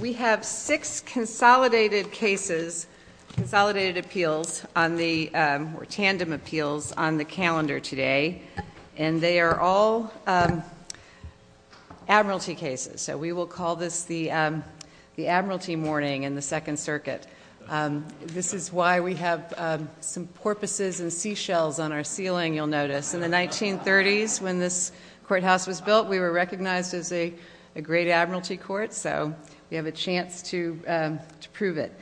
We have six consolidated cases, consolidated appeals, or tandem appeals on the calendar today, and they are all admiralty cases. So we will call this the Admiralty Mourning in the Second Circuit. This is why we have some porpoises and seashells on our ceiling, you'll notice. In the 1930s, when this courthouse was built, we were recognized as a great admiralty court. So we have a chance to prove it.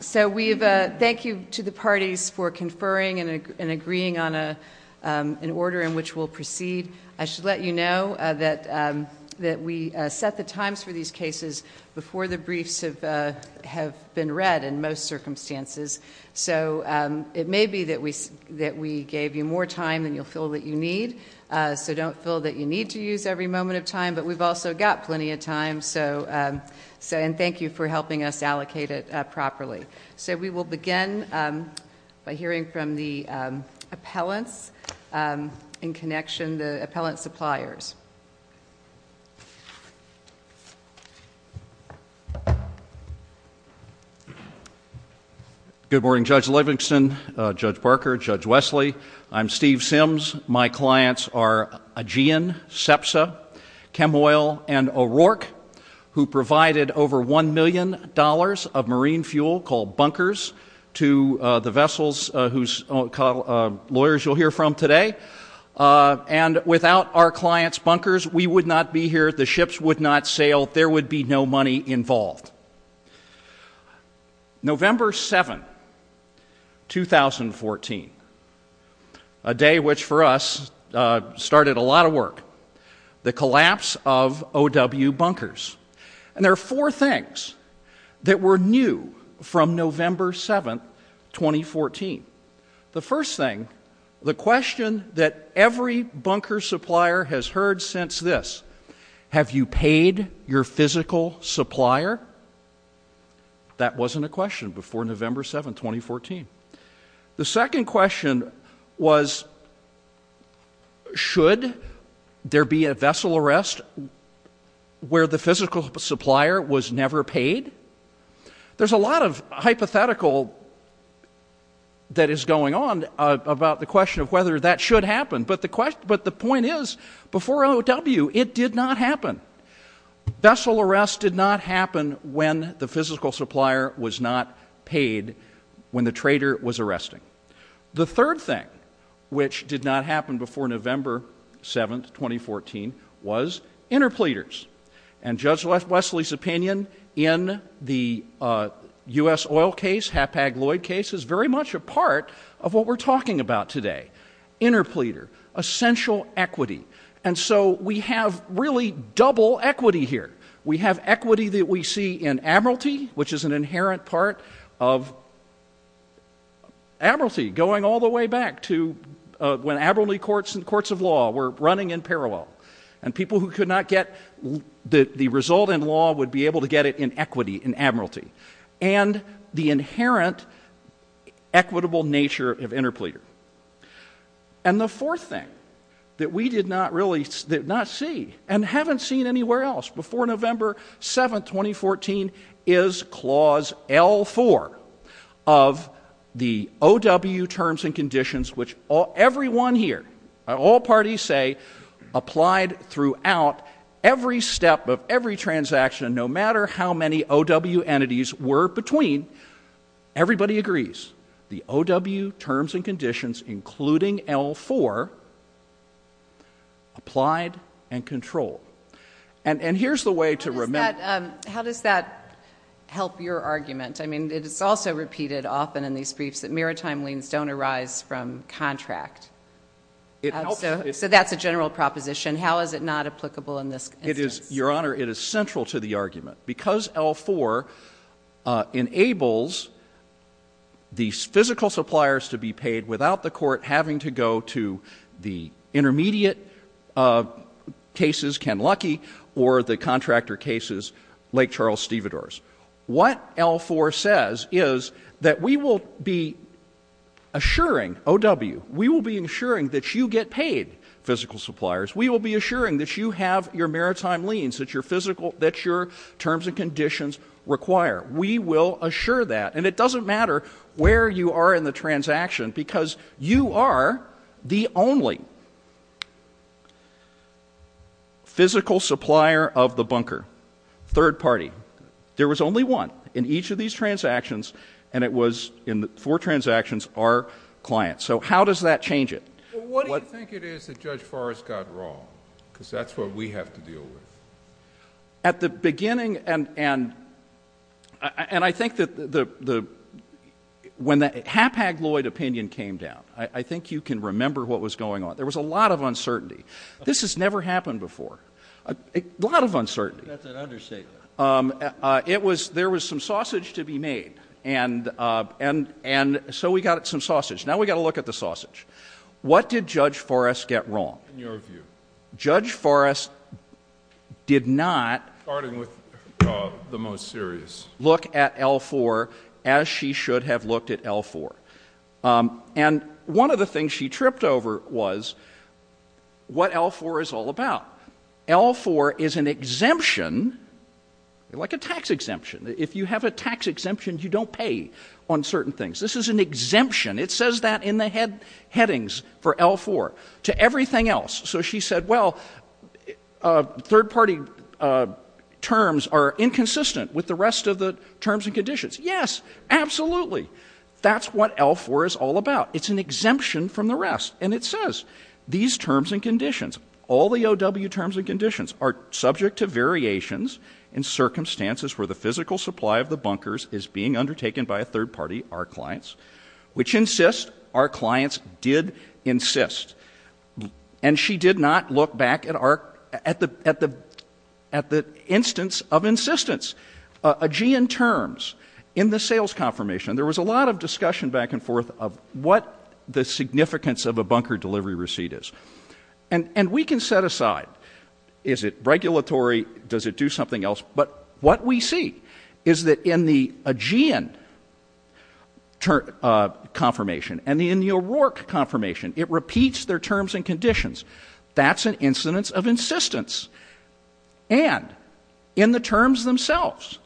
So we thank you to the parties for conferring and agreeing on an order in which we'll proceed. I should let you know that we set the times for these cases before the briefs have been read in most circumstances. So it may be that we gave you more time than you'll feel that you need, so don't feel that you need to use every moment of time, but we've also got plenty of time, and thank you for helping us allocate it properly. So we will begin by hearing from the appellants in connection, the appellant suppliers. Good morning, Judge Livingston, Judge Barker, Judge Wesley. I'm Steve Sims. My clients are Aegean, SEPSA, Chemoil, and O'Rourke, who provided over $1 million of marine fuel called bunkers to the vessels whose lawyers you'll hear from today. And without our clients' bunkers, we would not be here, the ships would not sail, there would be no money involved. November 7, 2014, a day which for us started a lot of work, the collapse of OW bunkers. And there are four things that were new from November 7, 2014. The first thing, the question that every bunker supplier has heard since this, have you paid your physical supplier? That wasn't a question before November 7, 2014. The second question was, should there be a vessel arrest where the physical supplier was never paid? There's a lot of hypothetical that is going on about the question of whether that should happen, but the point is, before OW, it did not happen. Vessel arrest did not happen when the physical supplier was not paid, when the trader was arresting. The third thing, which did not happen before November 7, 2014, was interpleaders. And Judge Wesley's opinion in the U.S. oil case, Hapag-Lloyd case, is very much a part of what we're talking about today. Interpleader, essential equity. And so we have really double equity here. We have equity that we see in admiralty, which is an inherent part of admiralty, going all the way back to when admiralty courts and courts of law were running in parallel. And people who could not get the result in law would be able to get it in equity, in admiralty. And the inherent equitable nature of interpleader. And the fourth thing that we did not see and haven't seen anywhere else before November 7, 2014, is Clause L4 of the OW terms and conditions, which everyone here, all parties say, applied throughout every step of every transaction, no matter how many OW entities were between. Everybody agrees. The OW terms and conditions, including L4, applied and controlled. And here's the way to remember. How does that help your argument? I mean, it's also repeated often in these briefs that maritime liens don't arise from contracts. So that's a general proposition. How is it not applicable in this case? Your Honor, it is central to the argument. Because L4 enables the physical suppliers to be paid without the court having to go to the intermediate cases, Ken Lucky, or the contractor cases, Lake Charles Stevedores. What L4 says is that we will be assuring OW, we will be assuring that you get paid, physical suppliers. We will be assuring that you have your maritime liens, that your terms and conditions require. We will assure that. And it doesn't matter where you are in the transaction, because you are the only physical supplier of the bunker, third party. There was only one in each of these transactions, and it was in four transactions, our client. So how does that change it? Well, what do you think it is that Judge Forrest got wrong? Because that's what we have to deal with. At the beginning, and I think that when the haphazard opinion came down, I think you can remember what was going on. There was a lot of uncertainty. This has never happened before. A lot of uncertainty. That's an understatement. There was some sausage to be made. And so we got some sausage. Now we got to look at the sausage. What did Judge Forrest get wrong? Judge Forrest did not look at L4 as she should have looked at L4. And one of the things she tripped over was what L4 is all about. L4 is an exemption, like a tax exemption. If you have a tax exemption, you don't pay on certain things. This is an exemption. It says that in the headings for L4. To everything else. So she said, well, third-party terms are inconsistent with the rest of the terms and conditions. Yes, absolutely. That's what L4 is all about. It's an exemption from the rest. And it says, these terms and conditions, all the OW terms and conditions, are subject to variations in circumstances where the physical supply of the bunkers is being undertaken by third-party, our clients. Which insists our clients did insist. And she did not look back at the instance of insistence. AGEAN terms in the sales confirmation. There was a lot of discussion back and forth of what the significance of a bunker delivery receipt is. And we can set aside, is it regulatory, does it do something else? But what we see is that in the AGEAN confirmation and in the O'Rourke confirmation, it repeats their terms and conditions. That's an incidence of insistence. And in the terms themselves,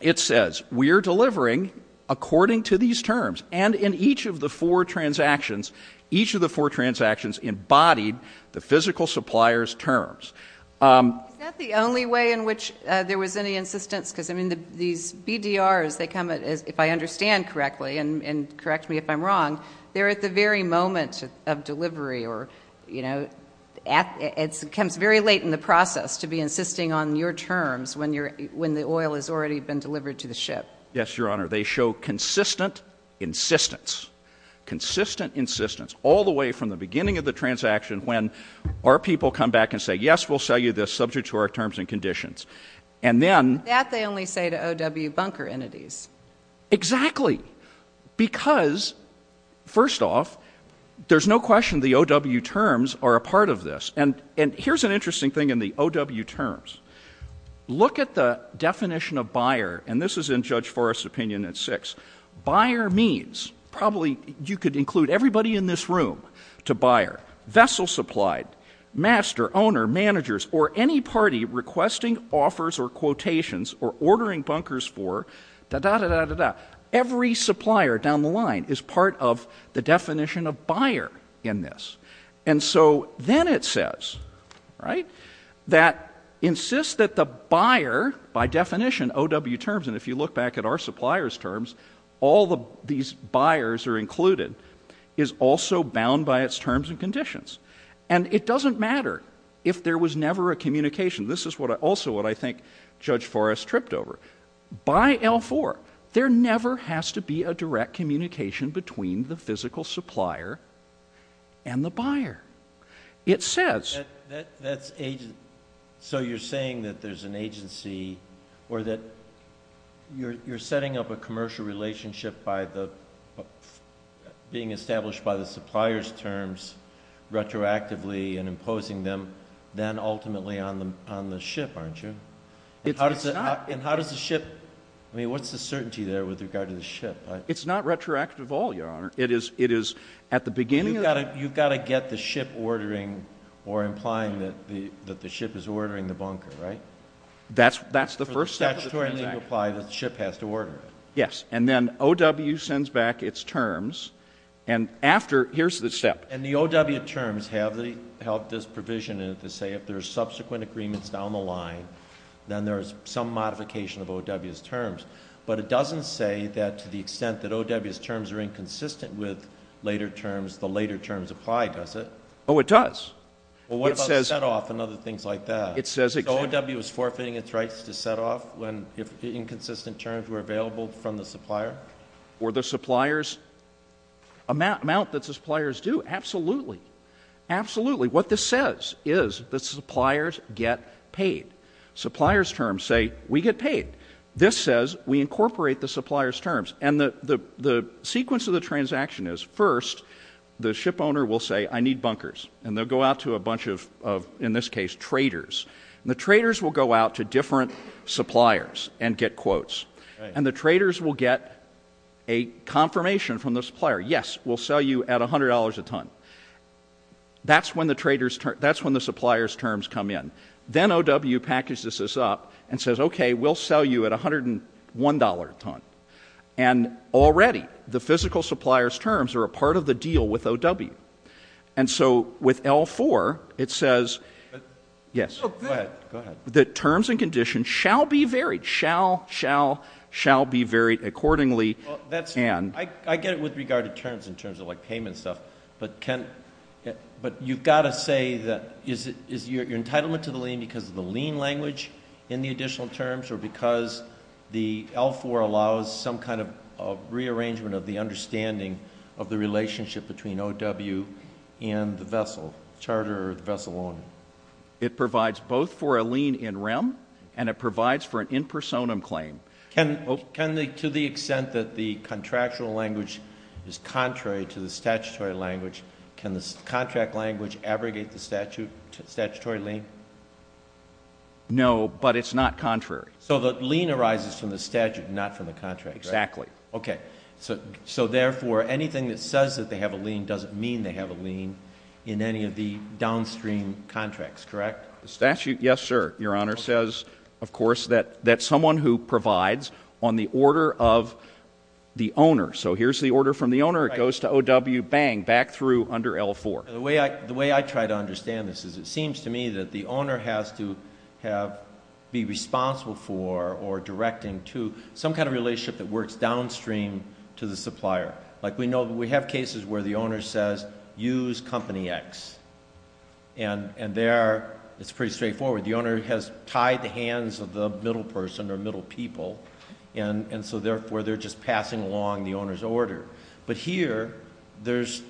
it says, we are delivering according to these terms. And in each of the four transactions, each of the four transactions embodied the physical supplier's terms. Is that the only way in which there was any insistence? Because, I mean, these BDRs, if I understand correctly, and correct me if I'm wrong, they're at the very moment of delivery. Or, you know, it comes very late in the process to be insisting on your terms when the oil has already been delivered to the ship. Yes, Your Honor. They show consistent insistence. Consistent insistence, all the way from the beginning of the transaction when our people come back and say, yes, we'll sell you this subject to our terms and conditions. And then- That they only say to O.W. bunker entities. Exactly. Because, first off, there's no question the O.W. terms are a part of this. And here's an interesting thing in the O.W. terms. Look at the definition of buyer. And this is in Judge Forrest's opinion in six. Buyer means, probably you could include everybody in this room to buyer. Vessel supplied, master, owner, managers, or any party requesting offers or quotations or ordering bunkers for, da-da-da-da-da-da. Every supplier down the line is part of the definition of buyer in this. And so then it says, right, that insists that the buyer, by definition, O.W. terms, and if you look back at our supplier's terms, all these buyers are included, is also bound by its terms and conditions. And it doesn't matter if there was never a communication. This is also what I think Judge Forrest tripped over. By L4, there never has to be a direct communication between the physical supplier and the buyer. It says- So you're saying that there's an agency or that you're setting up a commercial relationship by being established by the supplier's terms retroactively and imposing them then ultimately on the ship, aren't you? It's not. And how does the ship-I mean, what's the certainty there with regard to the ship? It's not retroactive at all, Your Honor. You've got to get the ship ordering or implying that the ship is ordering the bunker, right? That's the first step. It's a statutory thing to imply that the ship has to order it. Yes, and then O.W. sends back its terms, and after-here's the step. And the O.W. terms have this provision in it to say if there's subsequent agreements down the line, then there's some modification of O.W.'s terms. But it doesn't say that to the extent that O.W.'s terms are inconsistent with later terms, the later terms apply, does it? Oh, it does. Well, what about set-off and other things like that? It says- O.W. is forfeiting its rights to set-off when inconsistent terms were available from the supplier? For the supplier's-amount that the suppliers do, absolutely. Absolutely. What this says is the suppliers get paid. Supplier's terms say we get paid. This says we incorporate the supplier's terms. And the sequence of the transaction is, first, the ship owner will say, I need bunkers. And they'll go out to a bunch of, in this case, traders. And the traders will go out to different suppliers and get quotes. And the traders will get a confirmation from the supplier, yes, we'll sell you at $100 a ton. That's when the supplier's terms come in. Then O.W. packages this up and says, okay, we'll sell you at $101 a ton. And already the physical supplier's terms are a part of the deal with O.W. And so with L4, it says- Yes. Go ahead. The terms and conditions shall be varied. Shall, shall, shall be varied accordingly. I get it with regard to terms, in terms of, like, payment stuff. But you've got to say that is your entitlement to the lien because of the lien language in the additional terms or because the L4 allows some kind of rearrangement of the understanding of the relationship between O.W. and the vessel, charter or the vessel owner? It provides both for a lien in rem and it provides for an in personam claim. To the extent that the contractual language is contrary to the statutory language, can the contract language abrogate the statutory lien? No, but it's not contrary. So the lien arises from the statute, not from the contract. Exactly. Okay. So therefore, anything that says that they have a lien doesn't mean they have a lien in any of the downstream contracts, correct? The statute, yes, sir, Your Honor, says, of course, that someone who provides on the order of the owner. So here's the order from the owner. It goes to O.W., bang, back through under L4. The way I try to understand this is it seems to me that the owner has to be responsible for or directing to some kind of relationship that works downstream to the supplier. Like, we know that we have cases where the owner says, use company X. And there, it's pretty straightforward. The owner has tied the hands of the middle person or middle people, and so therefore they're just passing along the owner's order. But here, there's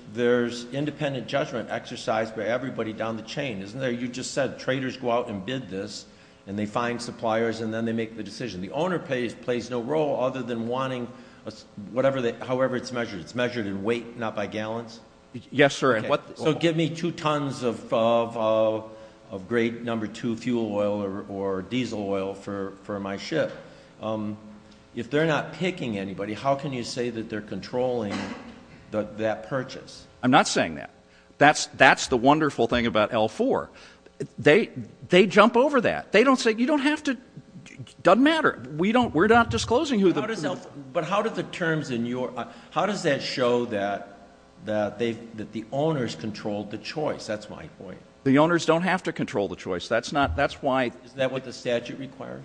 independent judgment exercise for everybody down the chain. Isn't that what you just said? Traders go out and bid this, and they find suppliers, and then they make the decision. The owner plays no role other than wanting however it's measured. It's measured in weight, not by gallons? Yes, sir. So give me two tons of great number two fuel oil or diesel oil for my ship. If they're not picking anybody, how can you say that they're controlling that purchase? I'm not saying that. That's the wonderful thing about L4. They jump over that. They don't say, you don't have to. It doesn't matter. We're not disclosing who the purchaser is. But how does that show that the owners control the choice? That's my point. The owners don't have to control the choice. Is that what the statute requires?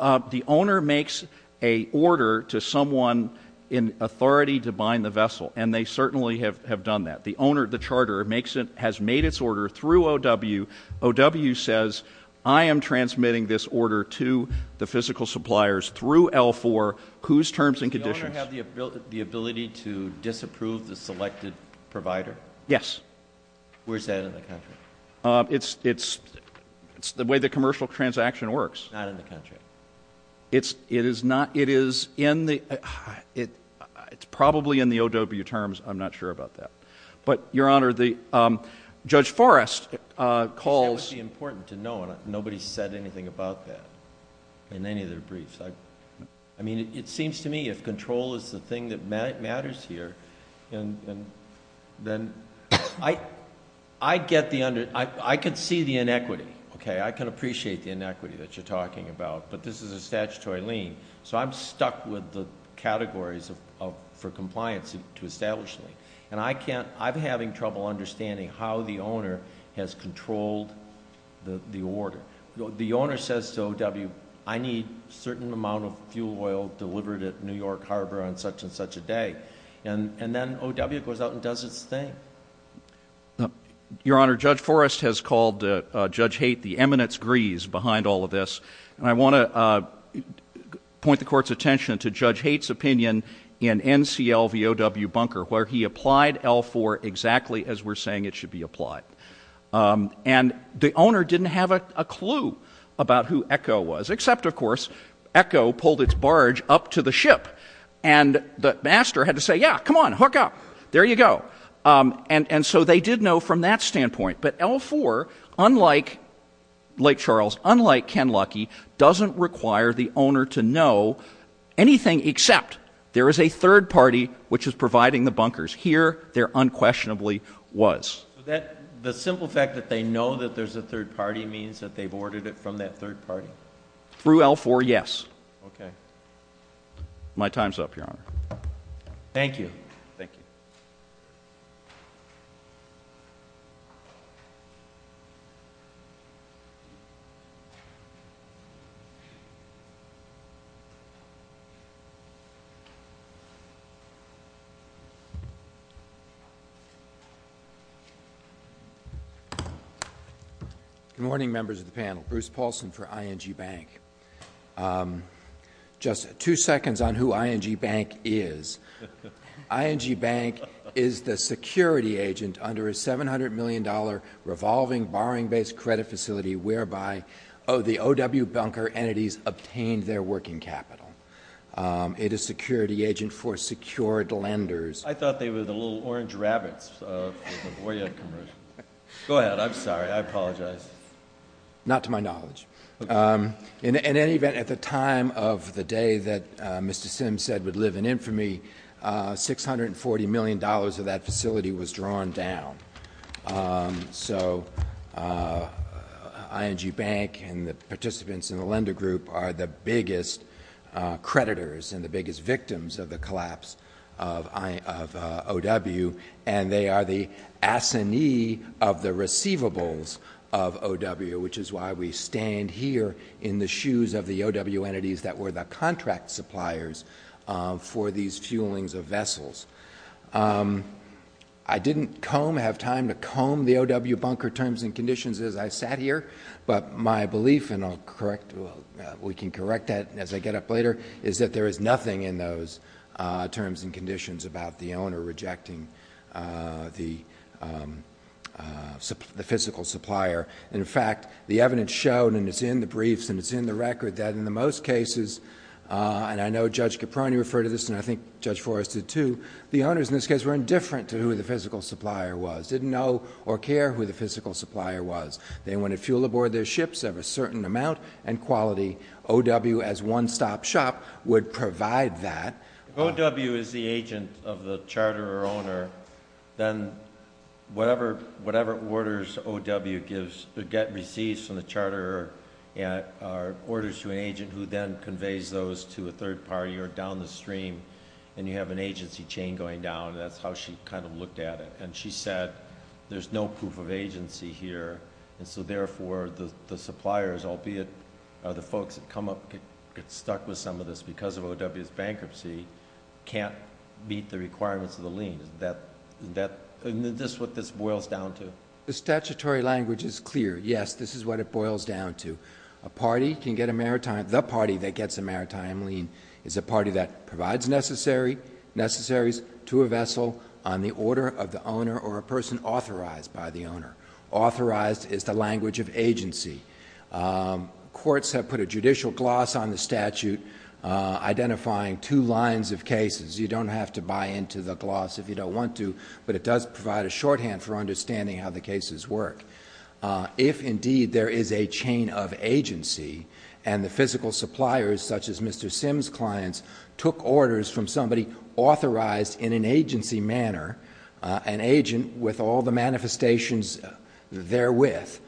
The owner makes an order to someone in authority to bind the vessel, and they certainly have done that. The charter has made its order through O.W. O.W. says, I am transmitting this order to the physical suppliers through L4, whose terms and conditions? Does the owner have the ability to disapprove the selected provider? Yes. Where is that in the country? It's the way the commercial transaction works. It's not in the country? It is not. It's probably in the O.W. terms. I'm not sure about that. But, Your Honor, Judge Forrest calls. That would be important to know. Nobody's said anything about that in any of their briefs. I mean, it seems to me if control is the thing that matters here, then I get the under – I can see the inequity, okay? I can appreciate the inequity that you're talking about. But this is a statutory lien. So I'm stuck with the categories for compliance to establish a lien. And I can't – I'm having trouble understanding how the owner has controlled the order. The owner says to O.W., I need a certain amount of fuel oil delivered at New York Harbor on such and such a day. And then O.W. goes out and does its thing. Your Honor, Judge Forrest has called Judge Haight the eminence grease behind all of this. And I want to point the Court's attention to Judge Haight's opinion in NCL v. O.W. Bunker where he applied L-4 exactly as we're saying it should be applied. And the owner didn't have a clue about who Echo was, except, of course, Echo pulled its barge up to the ship. And the master had to say, yeah, come on, hook up, there you go. And so they did know from that standpoint. But L-4, unlike Lake Charles, unlike Ken Lucky, doesn't require the owner to know anything except there is a third party which is providing the bunkers. Here there unquestionably was. The simple fact that they know that there's a third party means that they've ordered it from that third party? Through L-4, yes. Okay. My time's up, Your Honor. Thank you. Thank you. Good morning, members of the panel. Bruce Paulson for ING Bank. Just two seconds on who ING Bank is. ING Bank is the security agent under a $700 million revolving borrowing-based credit facility whereby the O.W. Bunker entities obtained their working capital. It is security agent for secured lenders. I thought they were the little orange rabbits of the Boyer commercial. Go ahead. I'm sorry. I apologize. Not to my knowledge. In any event, at the time of the day that Mr. Sims said would live in infamy, $640 million of that facility was drawn down. So ING Bank and the participants in the lender group are the biggest creditors and the biggest victims of the collapse of O.W., and they are the assignee of the receivables of O.W., which is why we stand here in the shoes of the O.W. entities that were the contract suppliers for these fuelings of vessels. I didn't have time to comb the O.W. Bunker terms and conditions as I sat here, but my belief, and we can correct that as I get up later, is that there is nothing in those terms and conditions about the owner rejecting the physical supplier. In fact, the evidence showed, and it's in the briefs and it's in the record, that in the most cases, and I know Judge Caproni referred to this and I think Judge Forrest did too, the owners in this case were indifferent to who the physical supplier was, didn't know or care who the physical supplier was. They wanted fuel aboard their ships of a certain amount and quality. O.W. as one-stop shop would provide that. If O.W. is the agent of the charter owner, then whatever orders O.W. gets received from the charter are orders to an agent who then conveys those to a third party or down the stream, and you have an agency chain going down, and that's how she kind of looked at it. She said there's no proof of agency here, and so therefore the suppliers, albeit the folks that come up and get stuck with some of this because of O.W.'s bankruptcy, can't meet the requirements of the lien. Is this what this boils down to? The statutory language is clear. Yes, this is what it boils down to. The party that gets a maritime lien is a party that provides necessaries to a vessel on the order of the owner or a person authorized by the owner. Authorized is the language of agency. Courts have put a judicial gloss on the statute identifying two lines of cases. You don't have to buy into the gloss if you don't want to, but it does provide a shorthand for understanding how the cases work. If indeed there is a chain of agency and the physical suppliers such as Mr. Sim's clients took orders from somebody authorized in an agency manner, an agent with all the manifestations therewith,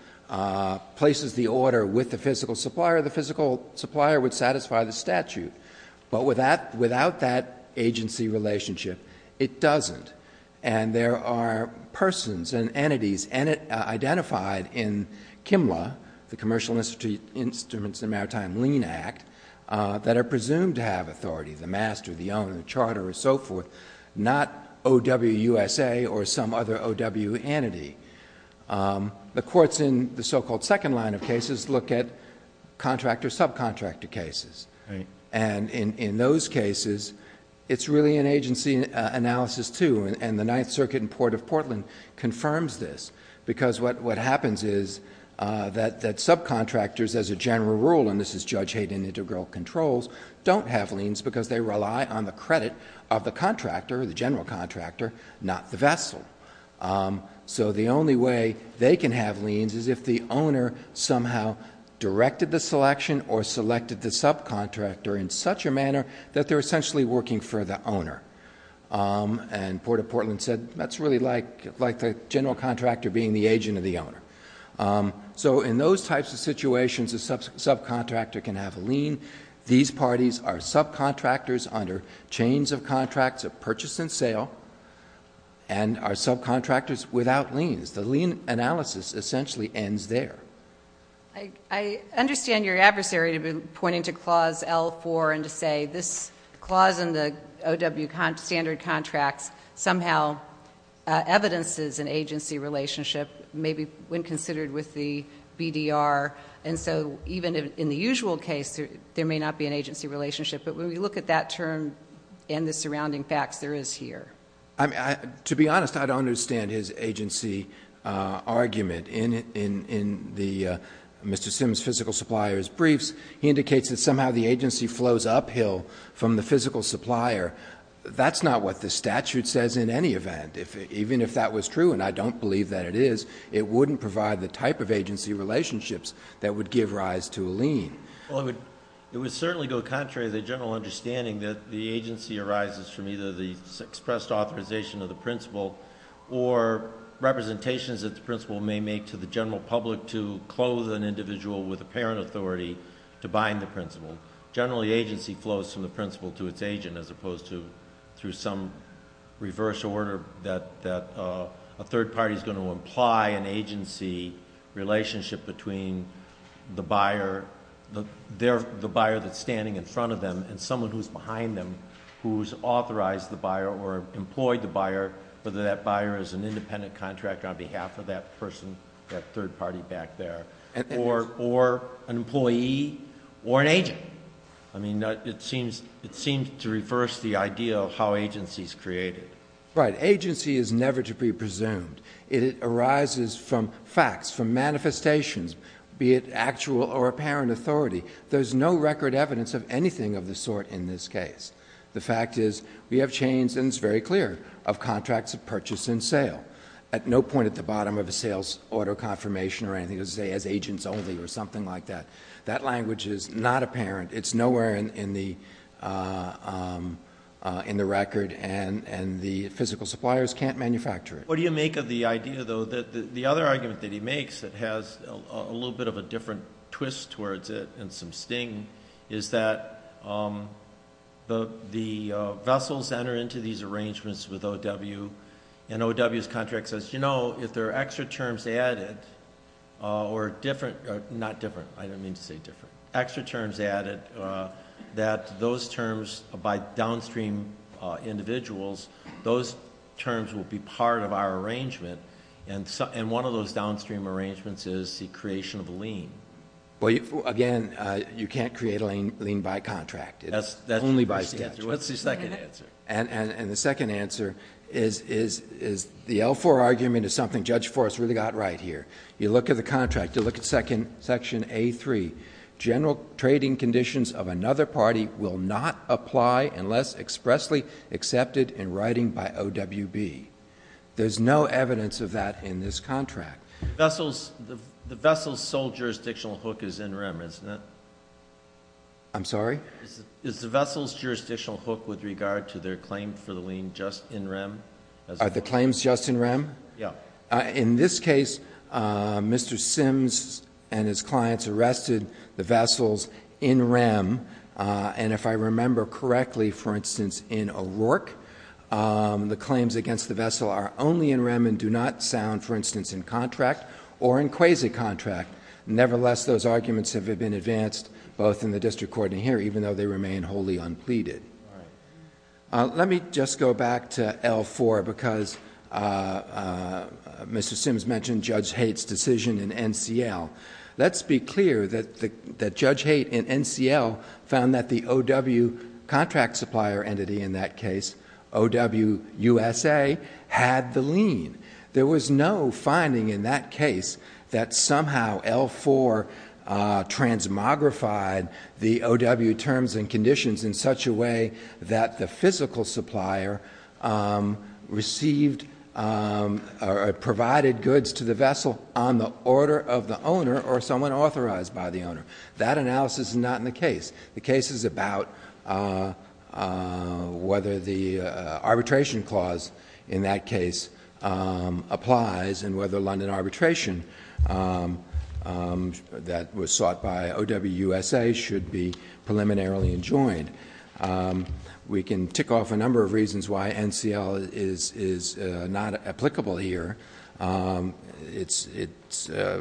places the order with the physical supplier, the physical supplier would satisfy the statute. But without that agency relationship, it doesn't. And there are persons and entities identified in CMLA, the Commercial Instruments and Maritime Lien Act, that are presumed to have authority, the master, the owner, the charter, and so forth, not O.W. USA or some other O.W. entity. The courts in the so-called second line of cases look at contractor-subcontractor cases. And in those cases, it's really an agency analysis, too. And the Ninth Circuit in Port of Portland confirms this because what happens is that subcontractors, as a general rule, and this is Judge Hayden integral controls, don't have liens because they rely on the credit of the contractor, the general contractor, not the vessel. So the only way they can have liens is if the owner somehow directed the selection or selected the subcontractor in such a manner that they're essentially working for the owner. And Port of Portland said, that's really like the general contractor being the agent of the owner. So in those types of situations, a subcontractor can have a lien. These parties are subcontractors under chains of contracts of purchase and sale and are subcontractors without liens. The lien analysis essentially ends there. I understand your adversary has been pointing to Clause L4 and to say, this clause in the O.W. standard contract somehow evidences an agency relationship, maybe when considered with the BDR. And so even in the usual case, there may not be an agency relationship. But when we look at that term and the surrounding facts, there is here. To be honest, I don't understand his agency argument. In Mr. Sims' physical supplier's briefs, he indicates that somehow the agency flows uphill from the physical supplier. That's not what the statute says in any event. Even if that was true, and I don't believe that it is, it wouldn't provide the type of agency relationships that would give rise to a lien. Well, it would certainly go contrary to the general understanding that the agency arises from either the expressed authorization of the principal or representations that the principal may make to the general public to close an individual with apparent authority to buying the principal. Generally, agency flows from the principal to its agent as opposed to through some reverse order that a third party is going to imply an agency relationship between the buyer that's standing in front of them and someone who's behind them who's authorized the buyer or employed the buyer, whether that buyer is an independent contractor on behalf of that person, that third party back there, or an employee, or an agent. I mean, it seems to reverse the idea of how agency is created. Right. Agency is never to be presumed. It arises from facts, from manifestations, be it actual or apparent authority. There's no record evidence of anything of the sort in this case. The fact is we have chains, and it's very clear, of contracts of purchase and sale at no point at the bottom of the sales order confirmation or anything as agents only or something like that. That language is not apparent. It's nowhere in the record, and the physical suppliers can't manufacture it. What do you make of the idea, though, that the other argument that he makes that has a little bit of a different twist towards it and some sting is that the vessels enter into these arrangements with O.W., and O.W.'s contract says, you know, if there are extra terms added or different— not different, I didn't mean to say different— extra terms added that those terms by downstream individuals, those terms will be part of our arrangement, and one of those downstream arrangements is the creation of a lien. Well, again, you can't create a lien by contract. That's the second answer. And the second answer is the L-4 argument is something Judge Forrest really got right here. You look at the contract, you look at Section A-3, general trading conditions of another party will not apply unless expressly accepted in writing by O.W.B. There's no evidence of that in this contract. The vessel's sole jurisdictional hook is in rem, isn't it? I'm sorry? Is the vessel's jurisdictional hook with regard to their claims for the lien just in rem? Are the claims just in rem? Yeah. In this case, Mr. Sims and his clients arrested the vessels in rem, and if I remember correctly, for instance, in O'Rourke, the claims against the vessel are only in rem and do not sound, for instance, in contract or in quasi-contract. Nevertheless, those arguments have been advanced both in the district court and here, even though they remain wholly unpleaded. Let me just go back to L-4 because Mr. Sims mentioned Judge Haight's decision in NCL. Let's be clear that Judge Haight in NCL found that the O.W. contract supplier entity in that case, O.W. USA, had the lien. There was no finding in that case that somehow L-4 transmogrified the O.W. terms and conditions in such a way that the physical supplier received or provided goods to the vessel on the order of the owner or someone authorized by the owner. That analysis is not in the case. The case is about whether the arbitration clause in that case applies and whether London arbitration that was sought by O.W. USA should be preliminarily enjoined. We can tick off a number of reasons why NCL is not applicable here. It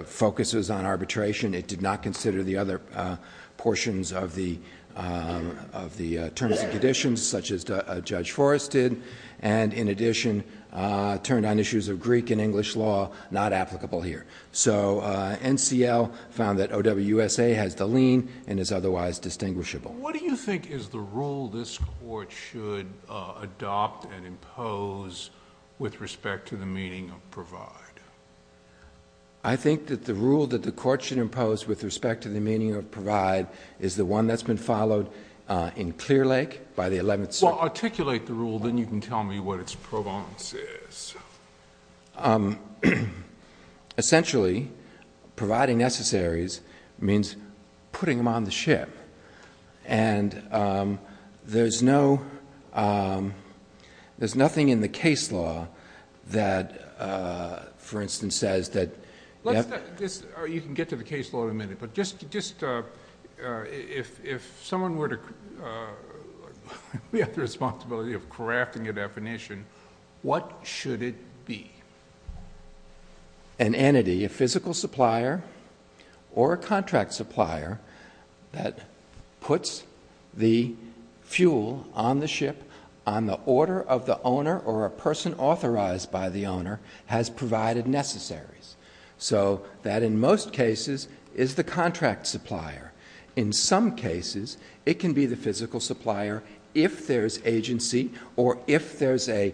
focuses on arbitration. It did not consider the other portions of the terms and conditions such as Judge Forrest did and, in addition, turned on issues of Greek and English law not applicable here. So NCL found that O.W. USA has the lien and is otherwise distinguishable. What do you think is the rule this court should adopt and impose with respect to the meaning of provide? I think that the rule that the court should impose with respect to the meaning of provide is the one that's been followed in Clearlake by the 11th Circuit. Well, articulate the rule. Then you can tell me what its pro bono is. Essentially, providing necessaries means putting them on the ship, and there's nothing in the case law that, for instance, says that— You can get to the case law in a minute, but if someone were to have the responsibility of crafting a definition, what should it be? An entity, a physical supplier or a contract supplier that puts the fuel on the ship on the order of the owner or a person authorized by the owner has provided necessaries. So that in most cases is the contract supplier. In some cases, it can be the physical supplier if there's agency or if the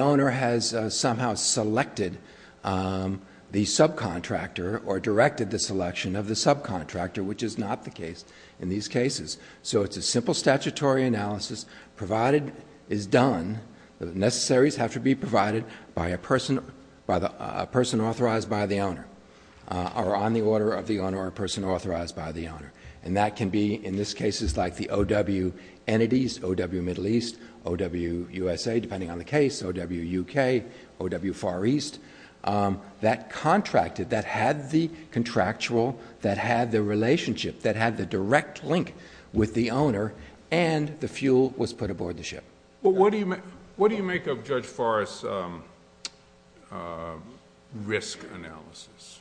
owner has somehow selected the subcontractor or directed the selection of the subcontractor, which is not the case in these cases. So it's a simple statutory analysis. Provided is done, the necessaries have to be provided by a person authorized by the owner or on the order of the owner or a person authorized by the owner. And that can be in these cases like the OW entities, OW Middle East, OW USA, depending on the case, OW UK, OW Far East, that contracted, that had the contractual, that had the relationship, that had the direct link with the owner and the fuel was put aboard the ship. Well, what do you make of Judge Forrest's risk analysis?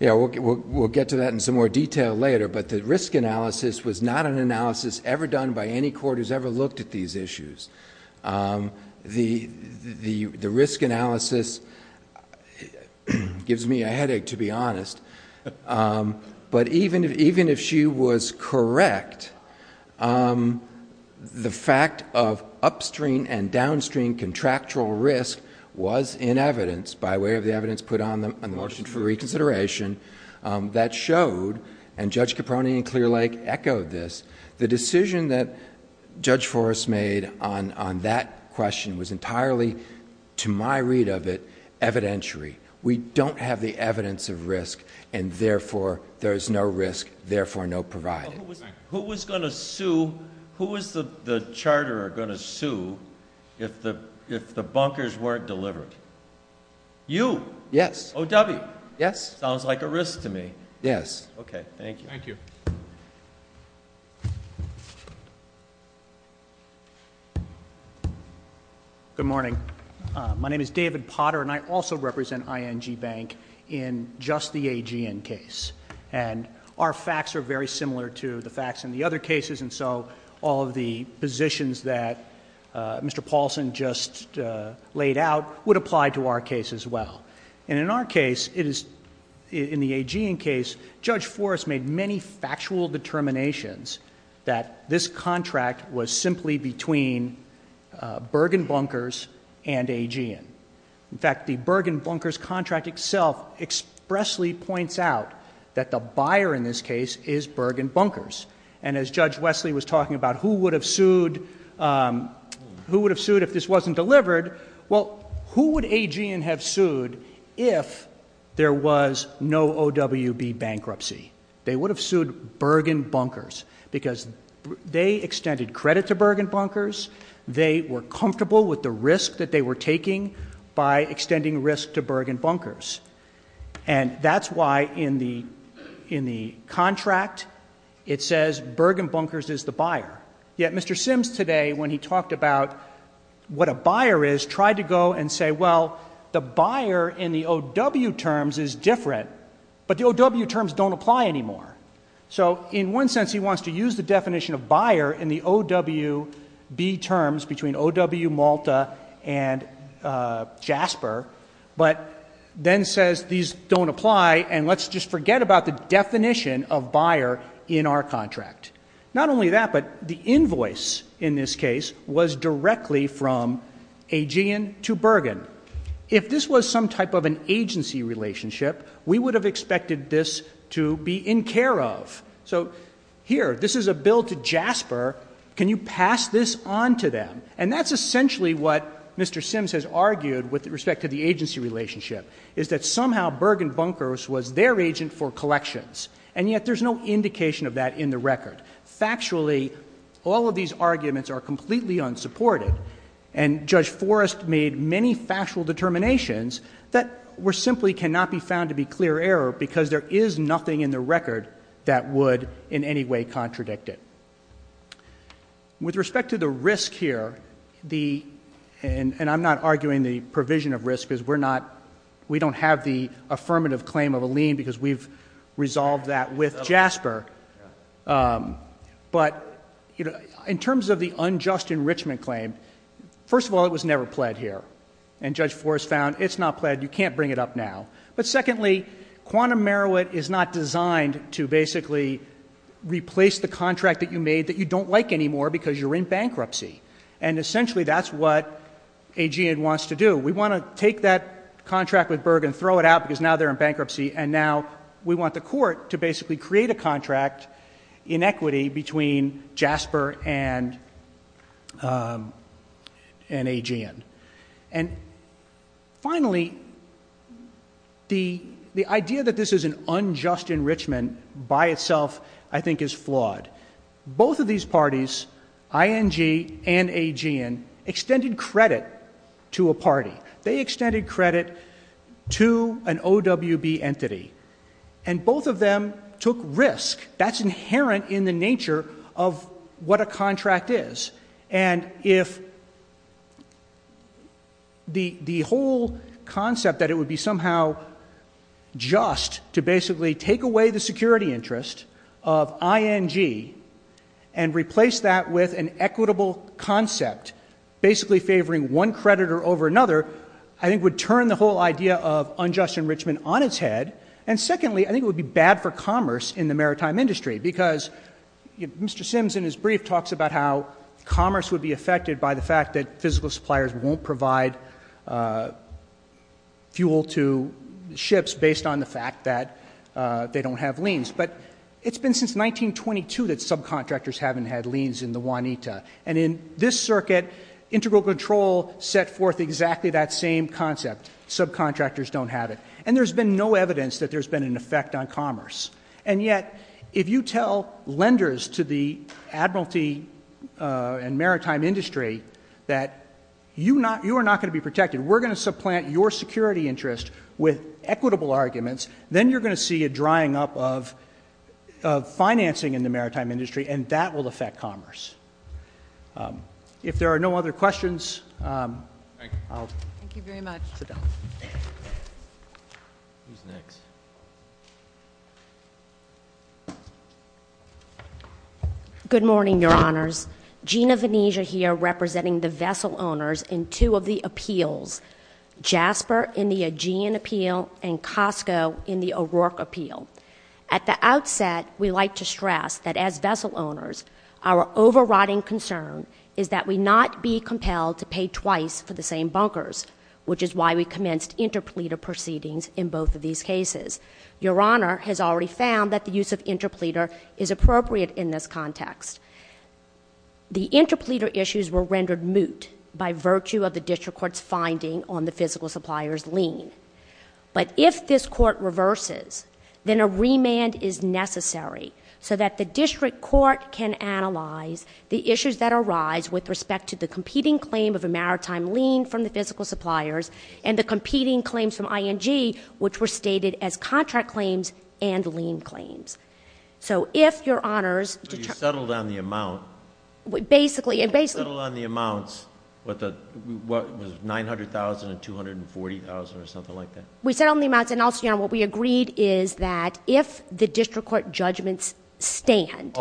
Yeah, we'll get to that in some more detail later, but the risk analysis was not an analysis ever done by any court who's ever looked at these issues. The risk analysis gives me a headache, to be honest. But even if she was correct, the fact of upstream and downstream contractual risk was in evidence, by way of the evidence put on the motion for reconsideration, that showed, and Judge Caproni and Clear Lake echoed this, the decision that Judge Forrest made on that question was entirely, to my read of it, evidentiary. We don't have the evidence of risk, and therefore there is no risk, therefore no providing. Who was going to sue? Who was the charterer going to sue if the bunkers weren't delivered? You. Yes. OW. Yes. Sounds like a risk to me. Yes. Okay, thank you. Thank you. Good morning. My name is David Potter, and I also represent ING Bank in just the AGN case. And our facts are very similar to the facts in the other cases, and so all of the positions that Mr. Paulson just laid out would apply to our case as well. And in our case, in the AGN case, Judge Forrest made many factual determinations that this contract was simply between Bergen Bunkers and AGN. In fact, the Bergen Bunkers contract itself expressly points out that the buyer in this case is Bergen Bunkers. And as Judge Wesley was talking about who would have sued if this wasn't delivered, well, who would AGN have sued if there was no OWB bankruptcy? They would have sued Bergen Bunkers because they extended credit to Bergen Bunkers. They were comfortable with the risk that they were taking by extending risk to Bergen Bunkers. And that's why in the contract it says Bergen Bunkers is the buyer. Yet Mr. Sims today, when he talked about what a buyer is, tried to go and say, well, the buyer in the OW terms is different, but the OW terms don't apply anymore. So in one sense he wants to use the definition of buyer in the OWB terms between OW Malta and JASPER, but then says these don't apply, and let's just forget about the definition of buyer in our contract. Not only that, but the invoice in this case was directly from AGN to Bergen. If this was some type of an agency relationship, we would have expected this to be in care of. So here, this is a bill to JASPER. Can you pass this on to them? And that's essentially what Mr. Sims has argued with respect to the agency relationship, is that somehow Bergen Bunkers was their agent for collections, and yet there's no indication of that in the record. Factually, all of these arguments are completely unsupported, and Judge Forrest made many factual determinations that simply cannot be found to be clear error because there is nothing in the record that would in any way contradict it. With respect to the risk here, and I'm not arguing the provision of risk, because we don't have the affirmative claim of a lien because we've resolved that with JASPER. But in terms of the unjust enrichment claim, first of all, it was never pled here, and Judge Forrest found it's not pled, you can't bring it up now. But secondly, Quantum Merowit is not designed to basically replace the contract that you made that you don't like anymore because you're in bankruptcy, and essentially that's what AGN wants to do. We want to take that contract with Bergen, throw it out because now they're in bankruptcy, and now we want the court to basically create a contract in equity between JASPER and AGN. And finally, the idea that this is an unjust enrichment by itself I think is flawed. Both of these parties, ING and AGN, extended credit to a party. They extended credit to an OWB entity, and both of them took risk. That's inherent in the nature of what a contract is. And if the whole concept that it would be somehow just to basically take away the security interest of ING and replace that with an equitable concept, basically favoring one creditor over another, I think would turn the whole idea of unjust enrichment on its head. And secondly, I think it would be bad for commerce in the maritime industry because Mr. Sims in his brief talks about how commerce would be affected by the fact that physical suppliers won't provide fuel to ships based on the fact that they don't have liens. But it's been since 1922 that subcontractors haven't had liens in the Juanita. And in this circuit, integral control set forth exactly that same concept. Subcontractors don't have it. And there's been no evidence that there's been an effect on commerce. And yet, if you tell lenders to the admiralty and maritime industry that you are not going to be protected, we're going to supplant your security interest with equitable arguments, then you're going to see a drying up of financing in the maritime industry, and that will affect commerce. If there are no other questions, I'll go. Thank you very much. Good morning, Your Honors. Gina Venezia here representing the vessel owners in two of the appeals, JASPER in the Aegean appeal and COSTCO in the O'Rourke appeal. At the outset, we like to stress that as vessel owners, our overriding concern is that we not be compelled to pay twice for the same bunkers, which is why we commenced interpleader proceedings in both of these cases. Your Honor has already found that the use of interpleader is appropriate in this context. The interpleader issues were rendered moot by virtue of the district court's finding on the physical supplier's lien. But if this court reverses, then a remand is necessary so that the district court can analyze the issues that arise with respect to the competing claim of a maritime lien from the physical suppliers and the competing claims from ING, which were stated as contract claims and lien claims. So if Your Honors... So you settled on the amount? Basically... You settled on the amounts, what was it, $900,000 and $240,000 or something like that? We settled on the amounts and also what we agreed is that if the district court judgments stand,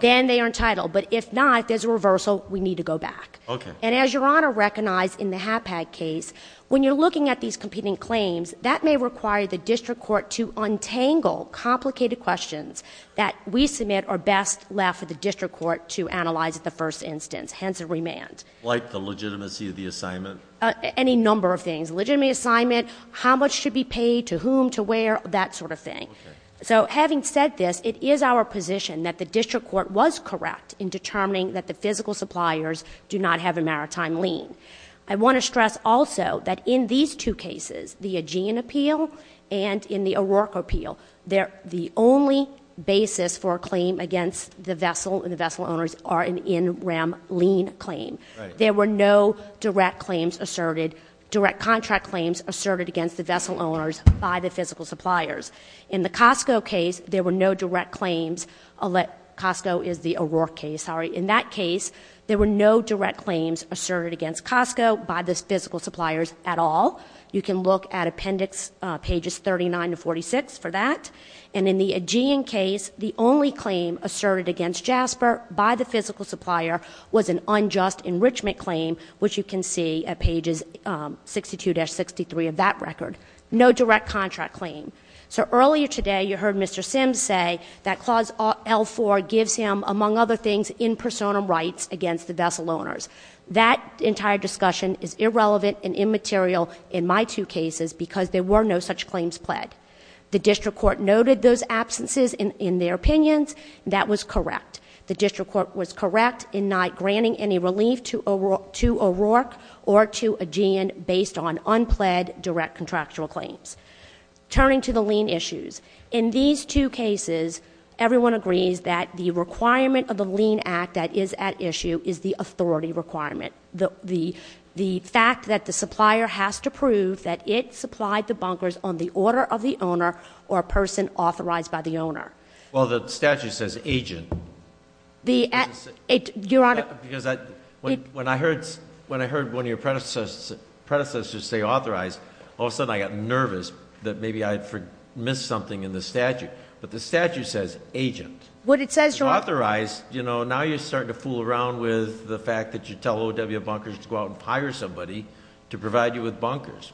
then they are entitled. But if not, there's a reversal. We need to go back. And as Your Honor recognized in the HAPAC case, when you're looking at these competing claims, that may require the district court to untangle complicated questions that we submit are best left for the district court to analyze at the first instance, hence a remand. Like the legitimacy of the assignment? Any number of things. Legitimate assignment, how much should be paid, to whom, to where, that sort of thing. Okay. So having said this, it is our position that the district court was correct in determining that the physical suppliers do not have a maritime lien. I want to stress also that in these two cases, the Aegean appeal and in the O'Rourke appeal, the only basis for a claim against the vessel and the vessel owners are an in rem lien claim. Right. There were no direct claims asserted, direct contract claims asserted against the vessel owners by the physical suppliers. In the Costco case, there were no direct claims. Costco is the O'Rourke case, sorry. In that case, there were no direct claims asserted against Costco by the physical suppliers at all. You can look at appendix pages 39 to 46 for that. And in the Aegean case, the only claim asserted against Jasper by the physical supplier was an unjust enrichment claim, which you can see at pages 62-63 of that record. No direct contract claim. So earlier today, you heard Mr. Sims say that Clause L4 gives him, among other things, in personam rights against the vessel owners. That entire discussion is irrelevant and immaterial in my two cases because there were no such claims pledged. The district court noted those absences in their opinions. That was correct. The district court was correct in not granting any relief to O'Rourke or to Aegean based on unpled direct contractual claims. Turning to the lien issues. In these two cases, everyone agrees that the requirement of the lien act that is at issue is the authority requirement. The fact that the supplier has to prove that it supplied the bunkers on the order of the owner or a person authorized by the owner. Well, the statute says agent. Your Honor. When I heard one of your predecessors say authorized, all of a sudden I got nervous that maybe I missed something in the statute. But the statute says agent. What it says, Your Honor. Authorized, you know, now you're starting to fool around with the fact that you tell OW bunkers to go out and hire somebody to provide you with bunkers.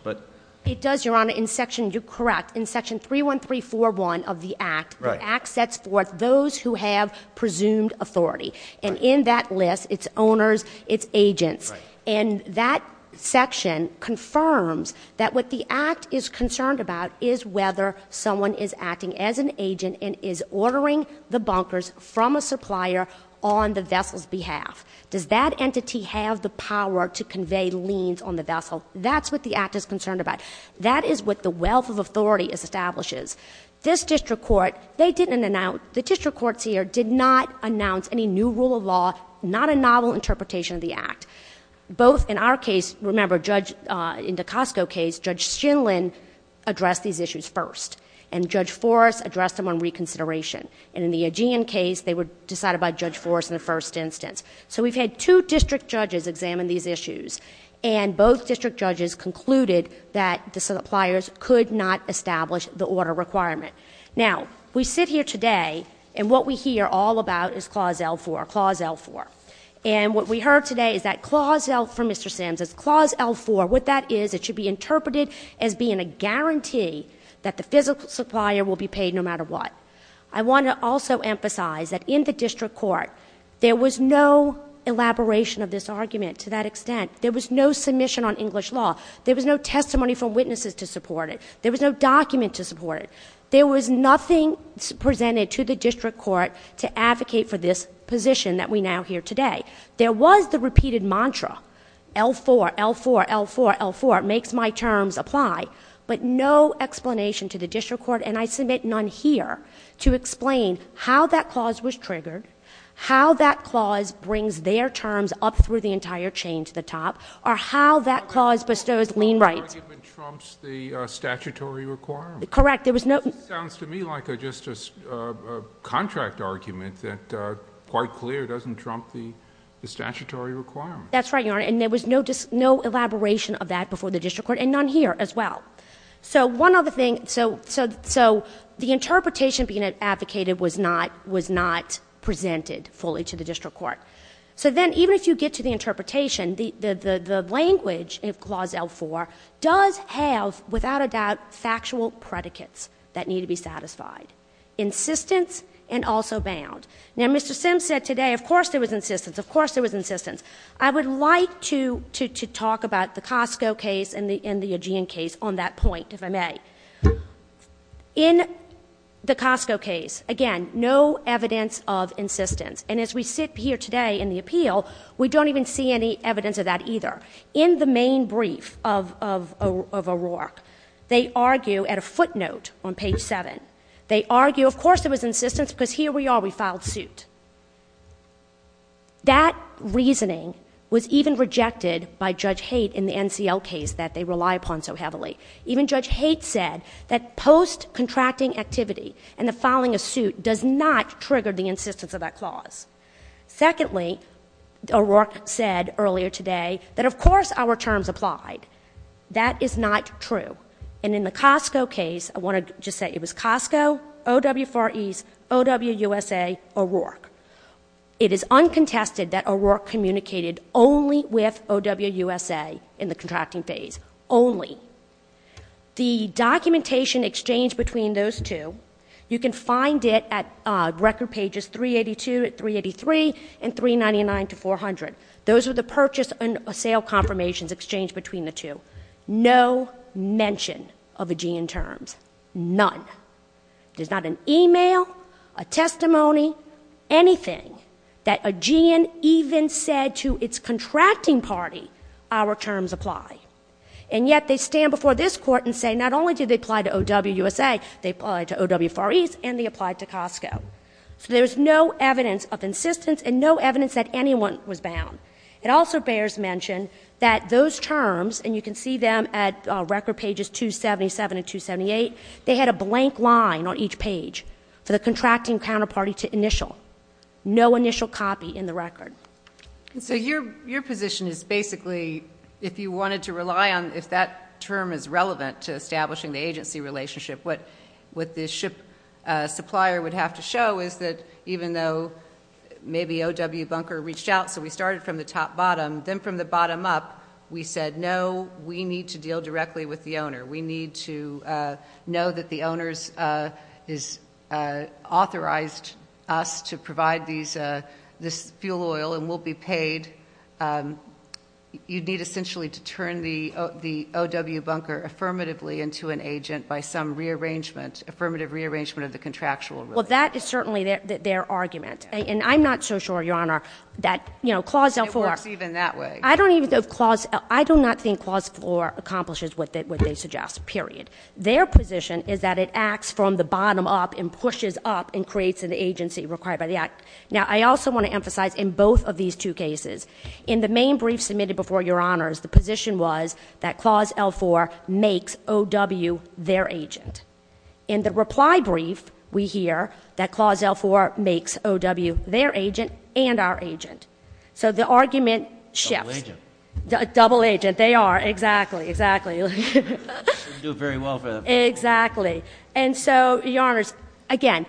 It does, Your Honor. You're correct. In Section 31341 of the act, the act sets forth those who have presumed authority. And in that list, it's owners, it's agents. And that section confirms that what the act is concerned about is whether someone is acting as an agent and is ordering the bunkers from a supplier on the vessel's behalf. Does that entity have the power to convey liens on the vessel? That's what the act is concerned about. That is what the wealth of authority establishes. This district court, they didn't announce, the district courts here did not announce any new rule of law, not a novel interpretation of the act. Both in our case, remember, Judge, in the Costo case, Judge Shinlin addressed these issues first. And Judge Forrest addressed them on reconsideration. And in the Aegean case, they decided about Judge Forrest in the first instance. So we've had two district judges examine these issues. And both district judges concluded that the suppliers could not establish the order requirement. Now, we sit here today, and what we hear all about is Clause L4, Clause L4. And what we heard today is that Clause L4, Mr. Sims, is Clause L4. What that is, it should be interpreted as being a guarantee that the physical supplier will be paid no matter what. I want to also emphasize that in the district court, there was no elaboration of this argument to that extent. There was no submission on English law. There was no testimony from witnesses to support it. There was no document to support it. There was nothing presented to the district court to advocate for this position that we now hear today. There was the repeated mantra, L4, L4, L4, L4, makes my terms apply, but no explanation to the district court. And I submit none here to explain how that clause was triggered, how that clause brings their terms up through the entire chain to the top, or how that clause bestows lien rights. The argument trumps the statutory requirement. Correct. It sounds to me like a contract argument that quite clear doesn't trump the statutory requirement. That's right, Your Honor. And there was no elaboration of that before the district court, and none here as well. So one other thing. So the interpretation being advocated was not presented fully to the district court. So then even if you get to the interpretation, the language in Clause L4 does have, without a doubt, factual predicates that need to be satisfied, insistence and also bounds. Now, Mr. Sims said today, of course there was insistence. Of course there was insistence. I would like to talk about the Costco case and the Eugene case on that point, if I may. In the Costco case, again, no evidence of insistence. And as we sit here today in the appeal, we don't even see any evidence of that either. In the main brief of O'Rourke, they argue at a footnote on page 7. They argue, of course there was insistence because here we are, we filed suit. That reasoning was even rejected by Judge Haidt in the NCL case that they rely upon so heavily. Even Judge Haidt said that post-contracting activity and the filing of suit does not trigger the insistence of that clause. Secondly, O'Rourke said earlier today that of course our terms applied. That is not true. And in the Costco case, I want to just say it was Costco, OW4E, OWUSA, O'Rourke. It is uncontested that O'Rourke communicated only with OWUSA in the contracting phase. Only. The documentation exchanged between those two, you can find it at record pages 382 and 383 and 399 to 400. Those are the purchase and sale confirmations exchanged between the two. No mention of AGEAN terms. None. There's not an email, a testimony, anything that AGEAN even said to its contracting party our terms apply. And yet they stand before this Court and say not only did they apply to OWUSA, they applied to OW4E and they applied to Costco. So there's no evidence of insistence and no evidence that anyone was bound. It also bears mention that those terms, and you can see them at record pages 277 and 278, they had a blank line on each page for the contracting counterparty to initial. No initial copy in the record. So your position is basically if you wanted to rely on if that term is relevant to establishing the agency relationship, what the ship supplier would have to show is that even though maybe OW Bunker reached out, so we started from the top bottom, then from the bottom up we said, no, we need to deal directly with the owner. We need to know that the owner has authorized us to provide this fuel oil and we'll be paid. You'd need essentially to turn the OW Bunker affirmatively into an agent by some rearrangement, affirmative rearrangement of the contractual rule. Well, that is certainly their argument. And I'm not so sure, Your Honor, that, you know, Clause L4. It works even that way. I don't even know if Clause — I do not think Clause 4 accomplishes what they suggest, period. Their position is that it acts from the bottom up and pushes up and creates an agency required by the Act. Now, I also want to emphasize in both of these two cases, in the main brief submitted before Your Honors, the position was that Clause L4 makes OW their agent. In the reply brief, we hear that Clause L4 makes OW their agent and our agent. So the argument shifts. Double agent. Double agent. They are. Exactly. Exactly. They do very well for that. Exactly. And so, Your Honors, again,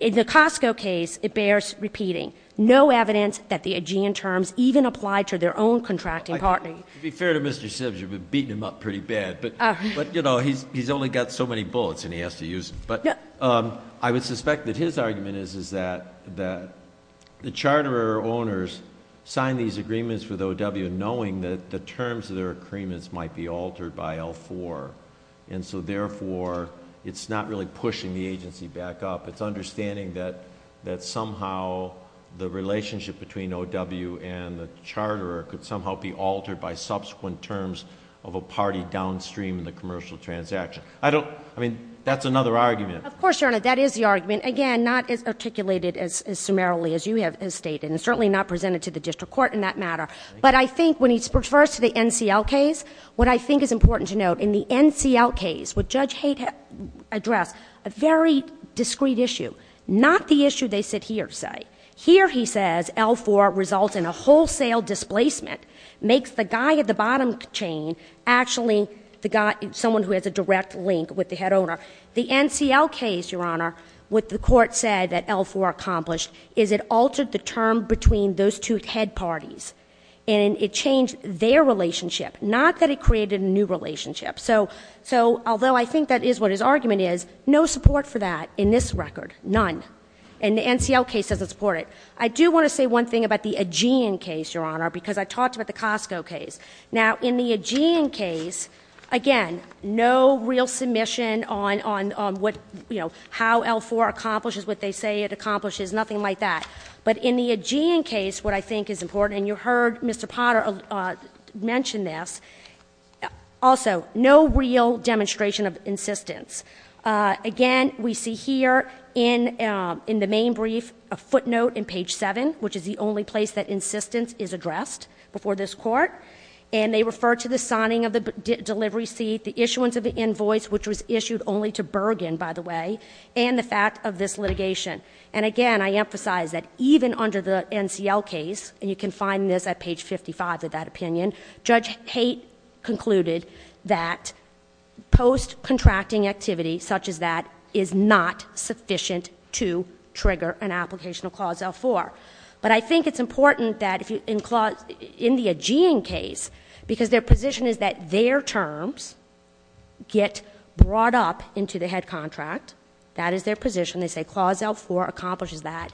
in the Costco case, it bears repeating. No evidence that the AGEAN terms even apply to their own contracting partner. To be fair to Mr. Sims, you've been beating him up pretty bad. But, you know, he's only got so many bullets and he has to use them. But I would suspect that his argument is that the charterer owners signed these agreements with OW knowing that the terms of their agreements might be altered by L4. And so, therefore, it's not really pushing the agency back up. It's understanding that somehow the relationship between OW and the charterer could somehow be altered by subsequent terms of a party downstream the commercial transaction. I mean, that's another argument. Of course, Your Honor. That is the argument. Again, not articulated as summarily as you have stated and certainly not presented to the district court in that matter. But I think when he refers to the NCL case, what I think is important to note in the NCL case, what Judge Kate addressed, a very discreet issue, not the issue they sit here and say. Here he says L4 results in a wholesale displacement, makes the guy at the bottom chain actually someone who has a direct link with the head owner. The NCL case, Your Honor, what the court said that L4 accomplished is it altered the term between those two head parties. And it changed their relationship, not that it created a new relationship. So although I think that is what his argument is, no support for that in this record. None. And the NCL case doesn't support it. I do want to say one thing about the Aegean case, Your Honor, because I talked about the Costco case. Now, in the Aegean case, again, no real submission on what, you know, how L4 accomplishes what they say it accomplishes, nothing like that. But in the Aegean case, what I think is important, and you heard Mr. Potter mention this, also, no real demonstration of insistence. Again, we see here in the main brief a footnote in page 7, which is the only place that insistence is addressed before this Court. And they refer to the signing of the delivery seat, the issuance of the invoice, which was issued only to Bergen, by the way, and the fact of this litigation. And, again, I emphasize that even under the NCL case, and you can find this at page 55 of that opinion, Judge Tate concluded that post-contracting activity such as that is not sufficient to trigger an application of Clause L4. But I think it's important that in the Aegean case, because their position is that their terms get brought up into the head contract, that is their position. They say Clause L4 accomplishes that.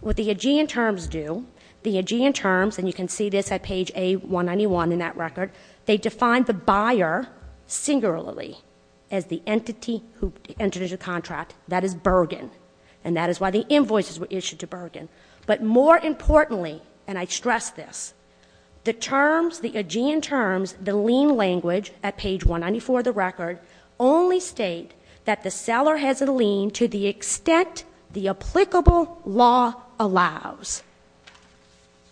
What the Aegean terms do, the Aegean terms, and you can see this at page A191 in that record, they define the buyer singularly as the entity who entered into the contract, that is Bergen, and that is why the invoices were issued to Bergen. But more importantly, and I stress this, the terms, the Aegean terms, the lien language at page 194 of the record, only state that the seller has a lien to the extent the applicable law allows.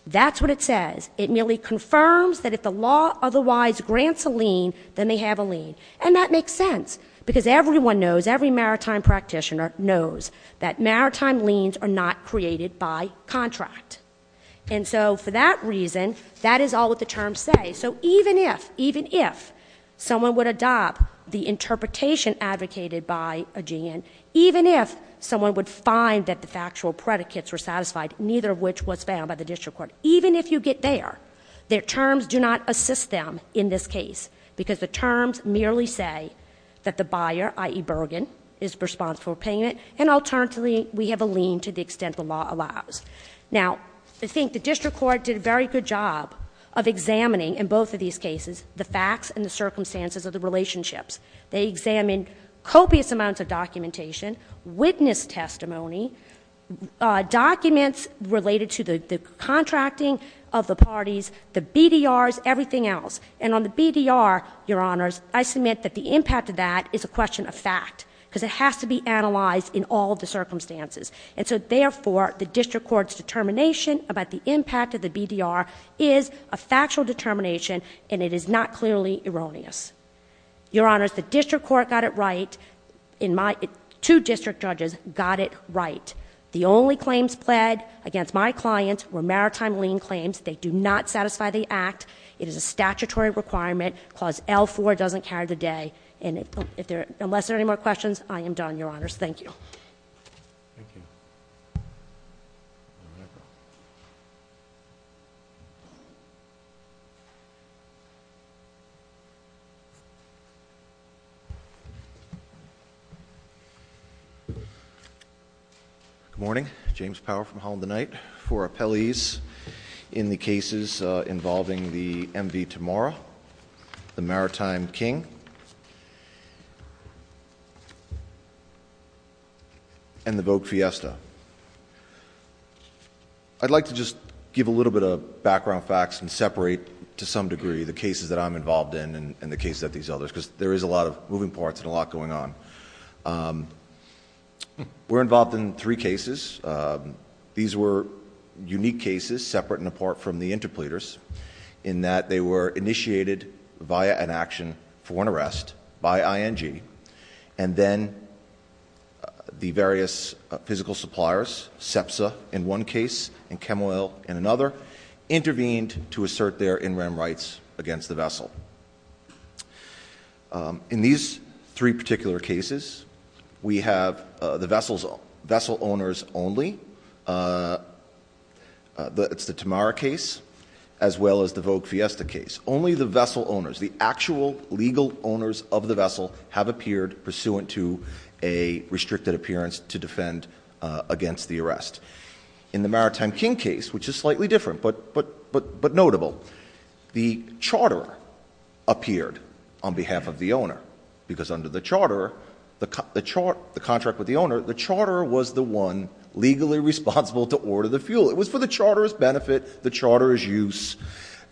That's what it says. It merely confirms that if the law otherwise grants a lien, then they have a lien. And that makes sense because everyone knows, every maritime practitioner knows that maritime liens are not created by contract. And so for that reason, that is all that the terms say. So even if, even if someone would adopt the interpretation advocated by Aegean, even if someone would find that the factual predicates were satisfied, neither of which was found by the district court, even if you get there, their terms do not assist them in this case because the terms merely say that the buyer, i.e. Bergen, is responsible for paying it, and alternatively we have a lien to the extent the law allows. Now, I think the district court did a very good job of examining, in both of these cases, the facts and the circumstances of the relationships. They examined copious amounts of documentation, witness testimony, documents related to the contracting of the parties, the BDRs, everything else. And on the BDR, Your Honors, I submit that the impact of that is a question of fact because it has to be analyzed in all of the circumstances. And so therefore, the district court's determination about the impact of the BDR is a factual determination, and it is not clearly erroneous. Your Honors, the district court got it right, and my two district judges got it right. The only claims pled against my clients were maritime lien claims. They do not satisfy the Act. It is a statutory requirement. Clause L-4 doesn't count today. And unless there are any more questions, I am done, Your Honors. Thank you. Thank you. Good morning. James Power from Holland and Knight. Four appellees in the cases involving the MV Tamora, the Maritime King. And the Vogue Fiesta. I'd like to just give a little bit of background facts and separate to some degree the cases that I'm involved in and the cases of these others because there is a lot of moving parts and a lot going on. We're involved in three cases. These were unique cases separate and apart from the interpleaders in that they were initiated via an action for an arrest by ING, and then the various physical suppliers, SEPSA in one case and Chemoil in another, intervened to assert their in-rem rights against the vessel. In these three particular cases, we have the vessel owners only. It's the Tamora case as well as the Vogue Fiesta case. It's only the vessel owners, the actual legal owners of the vessel have appeared pursuant to a restricted appearance to defend against the arrest. In the Maritime King case, which is slightly different but notable, the charter appeared on behalf of the owner because under the charter, the contract with the owner, the charter was the one legally responsible to order the fuel. It was for the charter's benefit, the charter's use.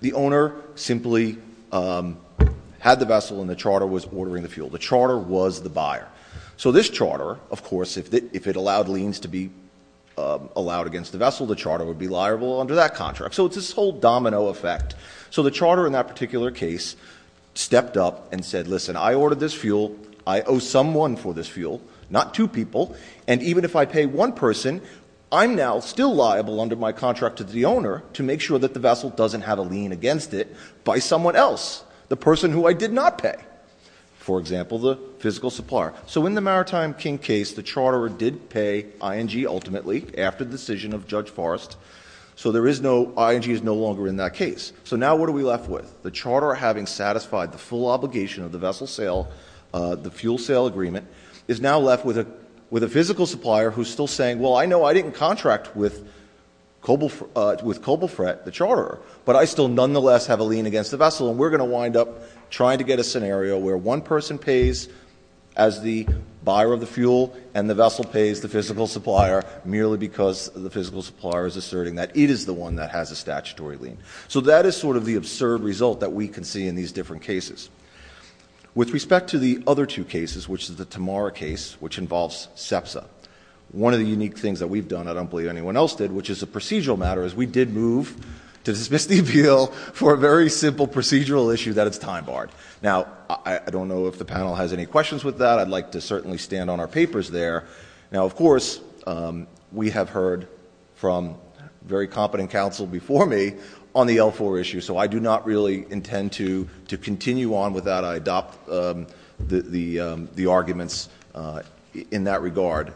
The owner simply had the vessel and the charter was ordering the fuel. The charter was the buyer. So this charter, of course, if it allowed liens to be allowed against the vessel, the charter would be liable under that contract. So it's this whole domino effect. So the charter in that particular case stepped up and said, listen, I ordered this fuel, I owe someone for this fuel, not two people, and even if I pay one person, I'm now still liable under my contract to the owner to make sure that the vessel doesn't have a lien against it by someone else, the person who I did not pay, for example, the physical supplier. So in the Maritime King case, the charter did pay ING ultimately after the decision of Judge Forrest, so ING is no longer in that case. So now what are we left with? The charter having satisfied the full obligation of the vessel sale, the fuel sale agreement, is now left with a physical supplier who's still saying, well, I know I didn't contract with Coblefret, the charterer, but I still nonetheless have a lien against the vessel and we're going to wind up trying to get a scenario where one person pays as the buyer of the fuel and the vessel pays the physical supplier merely because the physical supplier is asserting that it is the one that has a statutory lien. So that is sort of the absurd result that we can see in these different cases. With respect to the other two cases, which is the Tamara case, which involves SEPSA, one of the unique things that we've done, I don't believe anyone else did, which is a procedural matter, is we did move to the Smith v. Beale for a very simple procedural issue that it's time-barred. Now, I don't know if the panel has any questions with that. I'd like to certainly stand on our papers there. Now, of course, we have heard from very competent counsel before me on the L4 issue, so I do not really intend to continue on with that. I adopt the arguments in that regard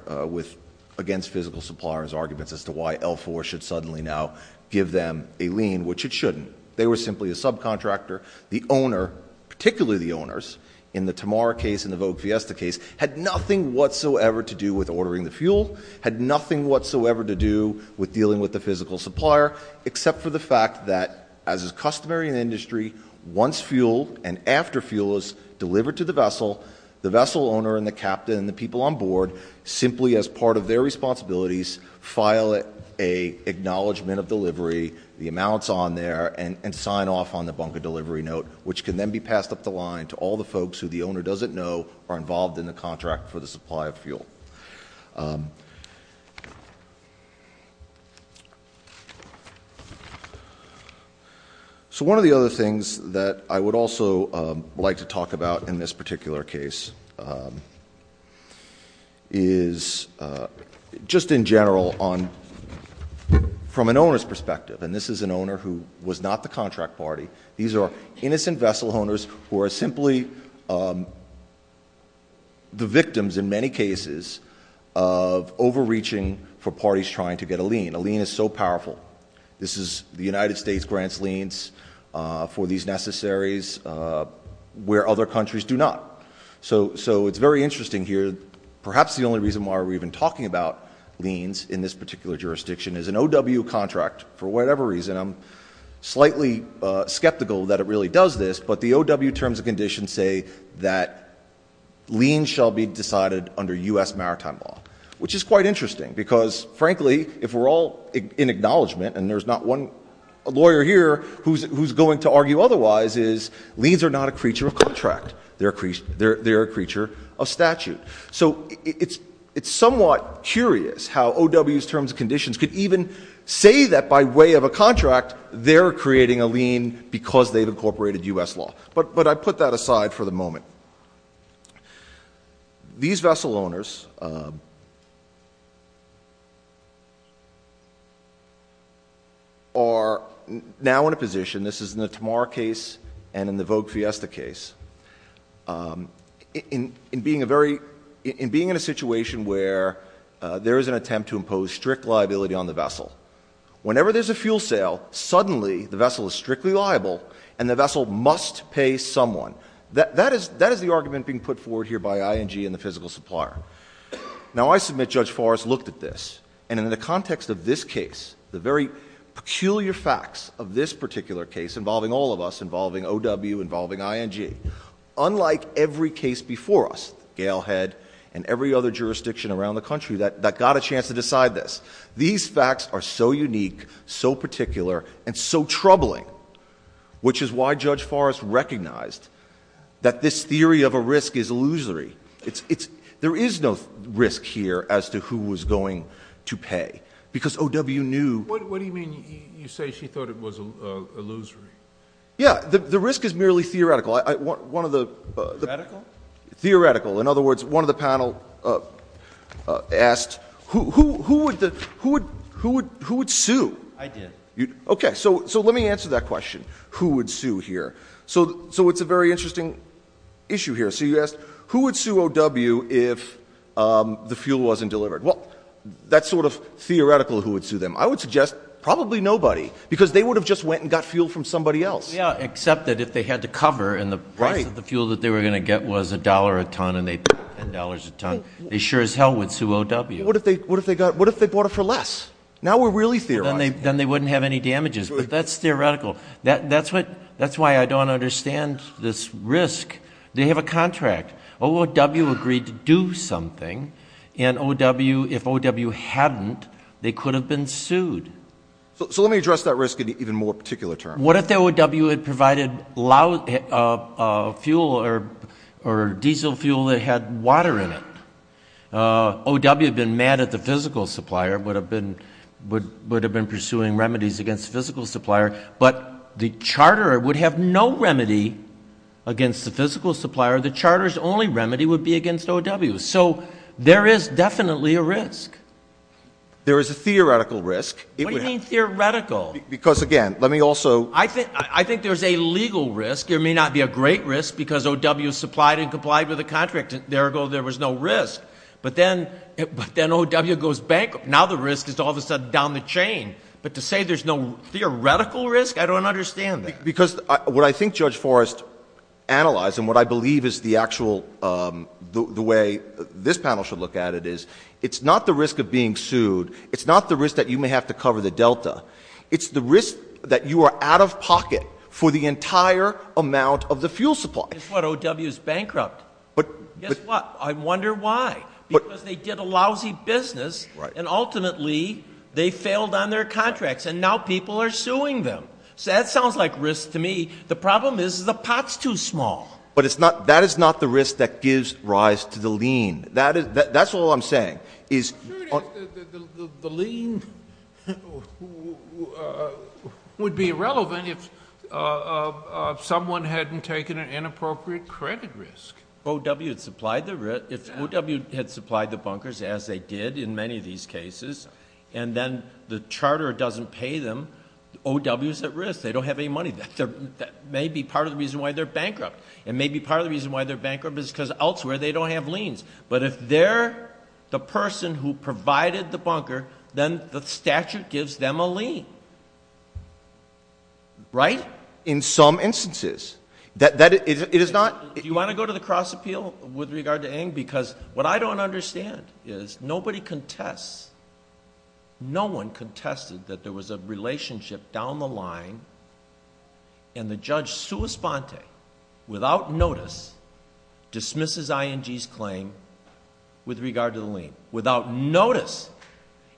against physical suppliers' arguments as to why L4 should suddenly now give them a lien, which it shouldn't. They were simply a subcontractor. The owner, particularly the owners, in the Tamara case and the VOPSESTA case, had nothing whatsoever to do with ordering the fuel, had nothing whatsoever to do with dealing with the physical supplier, except for the fact that, as is customary in industry, once fuel and after fuel is delivered to the vessel, the vessel owner and the captain and the people on board simply as part of their responsibilities file an acknowledgment of delivery, the amounts on there, and sign off on the bunker delivery note, which can then be passed up the line to all the folks who the owner doesn't know are involved in the contract for the supply of fuel. So one of the other things that I would also like to talk about in this particular case is just in general from an owner's perspective, and this is an owner who was not the contract party, these are innocent vessel owners who are simply the victims in many cases of overreaching for parties trying to get a lien. A lien is so powerful. The United States grants liens for these necessaries where other countries do not. So it's very interesting here. Perhaps the only reason why we're even talking about liens in this particular jurisdiction is an OW contract, for whatever reason, I'm slightly skeptical that it really does this, but the OW terms and conditions say that liens shall be decided under U.S. maritime law, which is quite interesting because, frankly, if we're all in acknowledgment, and there's not one lawyer here who's going to argue otherwise, is liens are not a creature of contract. They're a creature of statute. So it's somewhat curious how OW's terms and conditions could even say that by way of a contract they're creating a lien because they've incorporated U.S. law. But I put that aside for the moment. These vessel owners are now in a position, this is in the Tamar case and in the Vogue Fiesta case, in being in a situation where there is an attempt to impose strict liability on the vessel. Whenever there's a fuel sale, suddenly the vessel is strictly liable and the vessel must pay someone. That is the argument being put forward here by ING and the physical supplier. Now, I submit Judge Forrest looked at this, and in the context of this case, the very peculiar facts of this particular case involving all of us, involving OW, involving ING, unlike every case before us, Gale Head and every other jurisdiction around the country, that got a chance to decide this. These facts are so unique, so particular, and so troubling, which is why Judge Forrest recognized that this theory of a risk is illusory. There is no risk here as to who was going to pay, because OW knew— What do you mean you say she thought it was illusory? Yeah, the risk is merely theoretical. Theoretical? Theoretical. In other words, one of the panel asked who would sue? I did. Okay, so let me answer that question, who would sue here. So it's a very interesting issue here. So you asked who would sue OW if the fuel wasn't delivered. Well, that's sort of theoretical who would sue them. I would suggest probably nobody, because they would have just went and got fuel from somebody else. Yeah, except that if they had to cover and the price of the fuel that they were going to get was $1 a ton and they paid $10 a ton, they sure as hell would sue OW. What if they bought it for less? Now we're really theorizing. Then they wouldn't have any damages, but that's theoretical. That's why I don't understand this risk. They have a contract. OW agreed to do something, and if OW hadn't, they could have been sued. So let me address that risk in an even more particular term. What if OW had provided diesel fuel that had water in it? OW had been mad at the physical supplier, would have been pursuing remedies against the physical supplier, but the charter would have no remedy against the physical supplier. The charter's only remedy would be against OW. So there is definitely a risk. There is a theoretical risk. What do you mean theoretical? Because, again, let me also – I think there's a legal risk. There may not be a great risk because OW supplied and complied with the contract. Therefore, there was no risk. But then OW goes bankrupt. Now the risk is all of a sudden down the chain. But to say there's no theoretical risk, I don't understand that. Because what I think Judge Forrest analyzed, and what I believe is the actual – the way this panel should look at it is, it's not the risk of being sued. It's not the risk that you may have to cover the delta. It's the risk that you are out of pocket for the entire amount of the fuel supply. That's why OW is bankrupt. Guess what? I wonder why. Because they did a lousy business, and ultimately they failed on their contracts, and now people are suing them. So that sounds like risk to me. The problem is the pot's too small. But that is not the risk that gives rise to the lien. That's all I'm saying. The lien would be irrelevant if someone hadn't taken an inappropriate credit risk. If OW had supplied the bunkers, as they did in many of these cases, and then the charter doesn't pay them, OW is at risk. They don't have any money. That may be part of the reason why they're bankrupt. And maybe part of the reason why they're bankrupt is because elsewhere they don't have liens. But if they're the person who provided the bunker, then the statute gives them a lien. Right? In some instances. You want to go to the cross-appeal with regard to AIM? Because what I don't understand is nobody contests, no one contested that there was a relationship down the line, and the judge, sua sponte, without notice, dismisses ING's claim with regard to the lien. Without notice.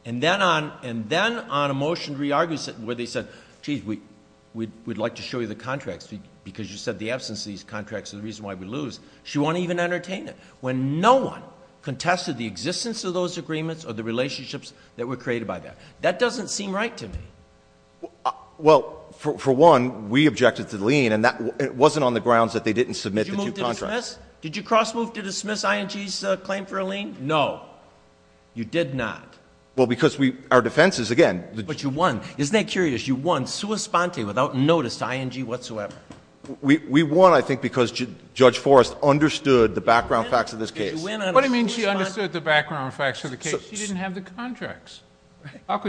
And then on a motion re-argument where they said, geez, we'd like to show you the contracts because you said the absence of these contracts is the reason why we lose. She won't even entertain it. When no one contested the existence of those agreements or the relationships that were created by that. That doesn't seem right to me. Well, for one, we objected to the lien, and it wasn't on the grounds that they didn't submit the two contracts. Did you cross-move to dismiss ING's claim for a lien? No. You did not. Well, because our defense is, again. But you won. Isn't that curious? You won sua sponte without notice to ING whatsoever. We won, I think, because Judge Forrest understood the background facts of this case. She didn't have the contracts. No,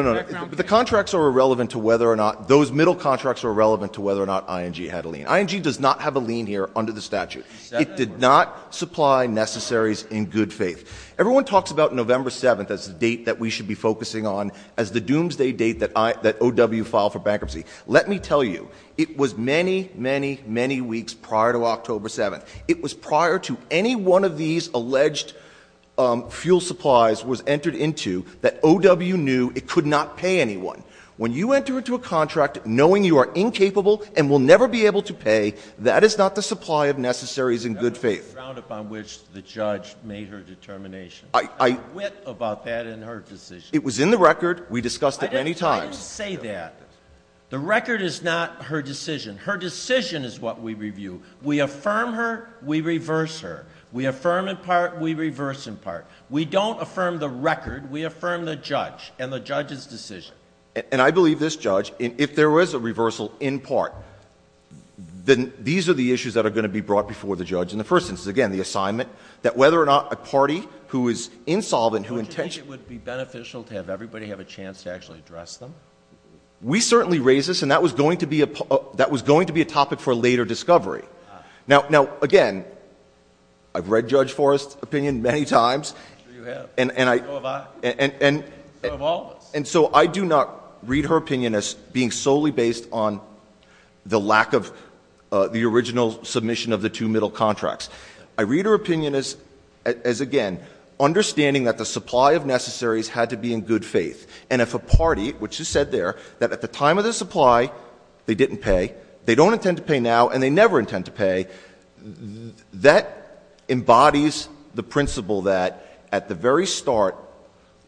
no, no. The contracts are irrelevant to whether or not those middle contracts are relevant to whether or not ING had a lien. ING does not have a lien here under the statute. It did not supply necessaries in good faith. Everyone talks about November 7th as the date that we should be focusing on as the doomsday date that OW filed for bankruptcy. Let me tell you. It was many, many, many weeks prior to October 7th. It was prior to any one of these alleged fuel supplies was entered into that OW knew it could not pay anyone. When you enter into a contract knowing you are incapable and will never be able to pay, that is not the supply of necessaries in good faith. That was the ground upon which the judge made her determination. I quit about that in her decision. It was in the record. We discussed it many times. I didn't say that. The record is not her decision. Her decision is what we review. We affirm her. We reverse her. We affirm in part. We reverse in part. We don't affirm the record. We affirm the judge and the judge's decision. And I believe this judge, if there was a reversal in part, then these are the issues that are going to be brought before the judge. And the first is, again, the assignment that whether or not a party who is insolvent, who intends to — Would you think it would be beneficial to have everybody have a chance to actually address them? We certainly raise this, and that was going to be a topic for a later discovery. Now, again, I've read Judge Forrest's opinion many times. And so I do not read her opinion as being solely based on the lack of the original submission of the two middle contracts. I read her opinion as, again, understanding that the supply of necessaries had to be in good faith. And if a party, which she said there, that at the time of their supply, they didn't pay, they don't intend to pay now, and they never intend to pay, that embodies the principle that at the very start,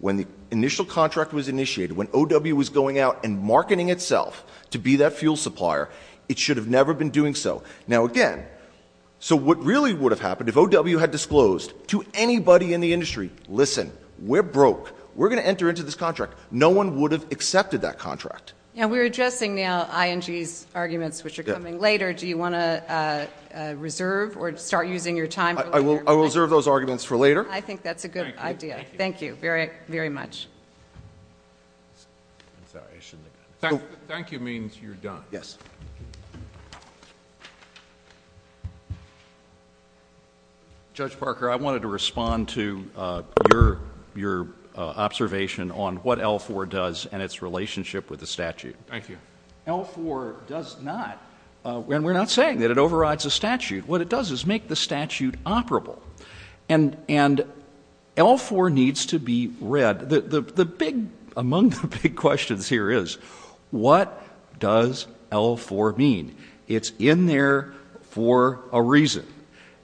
when the initial contract was initiated, when O.W. was going out and marketing itself to be that fuel supplier, it should have never been doing so. Now, again, so what really would have happened if O.W. had disclosed to anybody in the industry, listen, we're broke. We're going to enter into this contract. No one would have accepted that contract. Now, we're adjusting the ING's arguments, which are coming later. Do you want to reserve or start using your time? I will reserve those arguments for later. I think that's a good idea. Thank you very much. Thank you means you're done. Yes. Judge Parker, I wanted to respond to your observation on what L-4 does and its relationship with the statute. Thank you. L-4 does not, and we're not saying that it overrides the statute. What it does is make the statute operable, and L-4 needs to be read. Among the big questions here is what does L-4 mean? It's in there for a reason.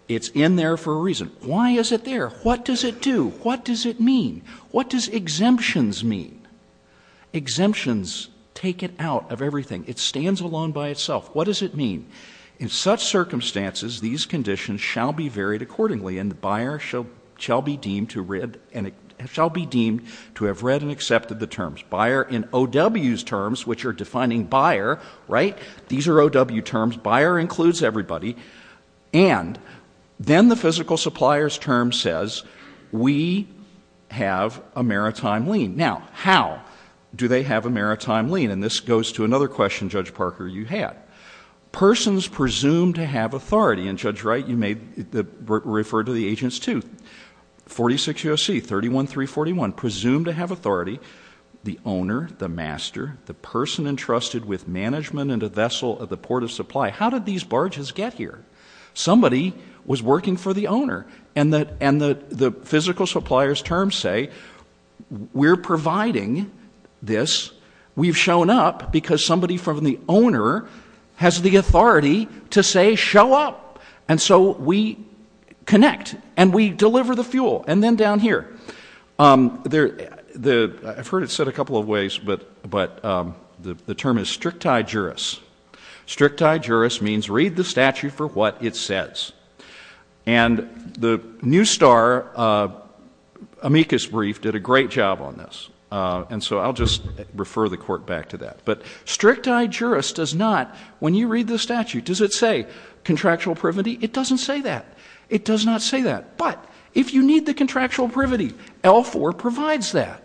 It's in there for a reason. Why is it there? What does it do? What does it mean? What does exemptions mean? Exemptions take it out of everything. It stands alone by itself. What does it mean? In such circumstances, these conditions shall be varied accordingly, and the buyer shall be deemed to have read and accepted the terms. Buyer in O.W.'s terms, which are defining buyer, right? These are O.W. terms. Buyer includes everybody. And then the physical supplier's term says we have a maritime lien. Now, how do they have a maritime lien? And this goes to another question, Judge Parker, you had. Persons presumed to have authority. And, Judge Wright, you referred to the agents, too. 46 U.S.C., 31341. Presumed to have authority. The owner, the master, the person entrusted with management and a vessel at the port of supply. How did these barges get here? Somebody was working for the owner. And the physical supplier's terms say we're providing this. We've shown up because somebody from the owner has the authority to say show up. And so we connect. And we deliver the fuel. And then down here, I've heard it said a couple of ways, but the term is stricti juris. Stricti juris means read the statute for what it says. And the New Star amicus brief did a great job on this. And so I'll just refer the court back to that. But stricti juris does not, when you read the statute, does it say contractual privity? It doesn't say that. It does not say that. But if you need the contractual privity, L4 provides that.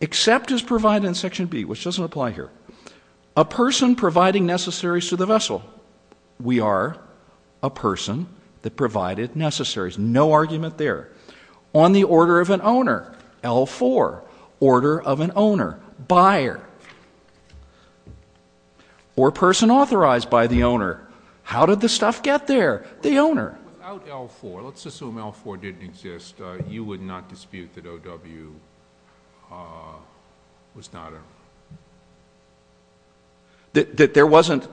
Except as provided in Section B, which doesn't apply here, a person providing necessaries to the vessel. We are a person that provided necessaries. No argument there. On the order of an owner, L4. Order of an owner. Buyer. Or person authorized by the owner. How did the stuff get there? The owner. Without L4, let's assume L4 didn't exist, you would not dispute that O.W. was not a... There wasn't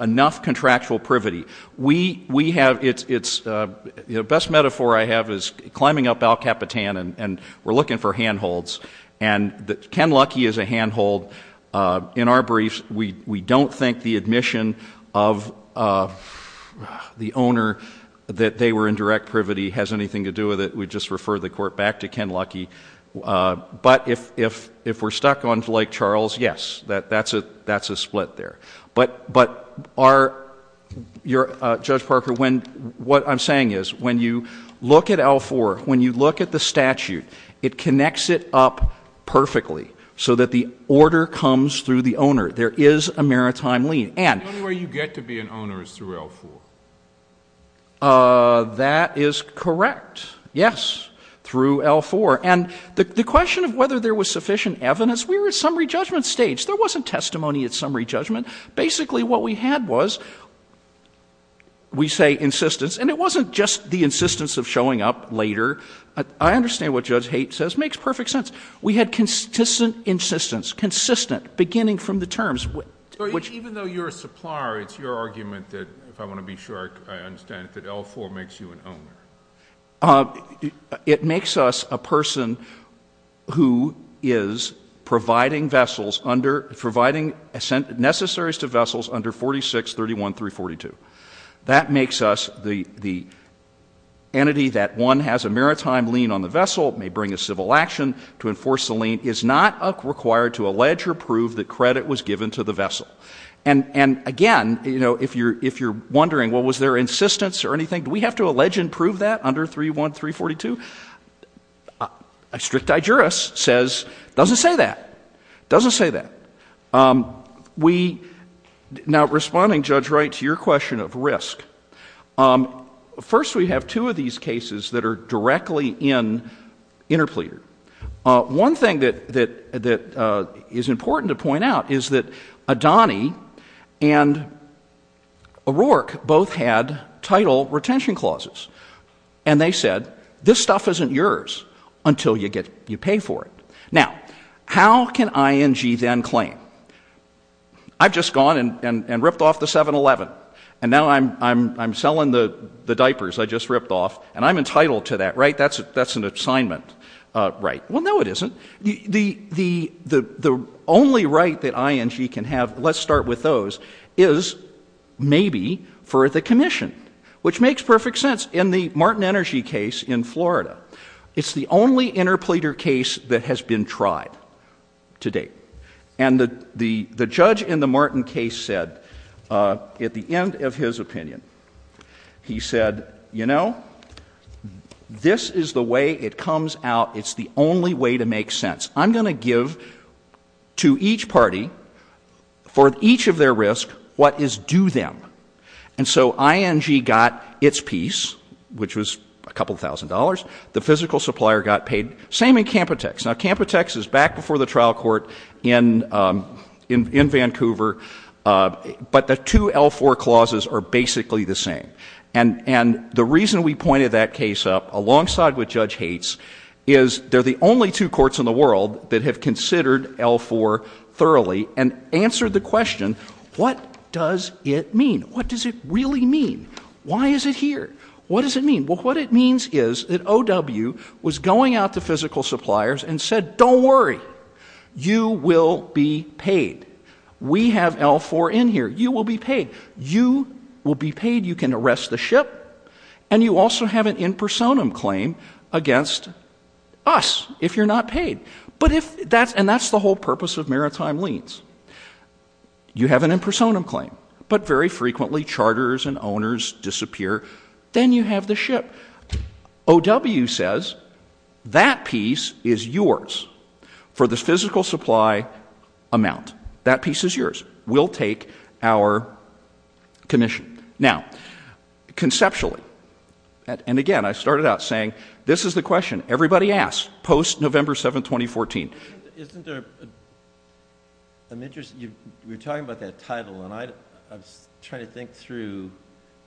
enough contractual privity. We have... The best metaphor I have is climbing up El Capitan and we're looking for handholds. And Ken Luckey is a handhold. In our briefs, we don't think the admission of the owner that they were in direct privity has anything to do with it. We just refer the court back to Ken Luckey. But if we're stuck on Blake Charles, yes, that's a split there. But Judge Parker, what I'm saying is when you look at L4, when you look at the statute, it connects it up perfectly so that the order comes through the owner. There is a maritime lien. The only way you get to be an owner is through L4. That is correct. Yes, through L4. And the question of whether there was sufficient evidence, we were at summary judgment stage. There wasn't testimony at summary judgment. Basically what we had was, we say insistence, and it wasn't just the insistence of showing up later. I understand what Judge Haight says. It makes perfect sense. We had consistent insistence, consistent, beginning from the terms. Even though you're a supplier, it's your argument that, if I want to be sure I understand it, that L4 makes you an owner. It makes us a person who is providing necessaries to vessels under 4631-342. That makes us the entity that, one, has a maritime lien on the vessel, may bring a civil action to enforce the lien, is not required to allege or prove that credit was given to the vessel. And, again, if you're wondering, well, was there insistence or anything? Do we have to allege and prove that under 31342? A strict digeris says, doesn't say that. Doesn't say that. Now, responding, Judge Wright, to your question of risk, first we have two of these cases that are directly in interpleader. One thing that is important to point out is that Adani and O'Rourke both had title retention clauses. And they said, this stuff isn't yours until you pay for it. Now, how can ING then claim, I've just gone and ripped off the 711, and now I'm selling the diapers I just ripped off, and I'm entitled to that, right? That's an assignment right. Well, no it isn't. The only right that ING can have, let's start with those, is maybe for the commission, which makes perfect sense. In the Martin Energy case in Florida, it's the only interpleader case that has been tried to date. And the judge in the Martin case said, at the end of his opinion, he said, you know, this is the way it comes out. It's the only way to make sense. I'm going to give to each party, for each of their risk, what is due them. And so ING got its piece, which was a couple thousand dollars. The physical supplier got paid. Same in Camputex. Now, Camputex is back before the trial court in Vancouver, but the two L4 clauses are basically the same. And the reason we pointed that case up, alongside what Judge Hates, is they're the only two courts in the world that have considered L4 thoroughly and answered the question, what does it mean? What does it really mean? Why is it here? What does it mean? Well, what it means is that OW was going out to physical suppliers and said, don't worry. You will be paid. We have L4 in here. You will be paid. You will be paid. You can arrest the ship. And you also have an in personam claim against us if you're not paid. And that's the whole purpose of maritime liens. You have an in personam claim. But very frequently, charters and owners disappear. Then you have the ship. OW says, that piece is yours for the physical supply amount. That piece is yours. We'll take our commission. Now, conceptually, and again, I started out saying, this is the question everybody asks, post-November 7, 2014. Isn't there, I'm interested, you were talking about that title. And I'm trying to think through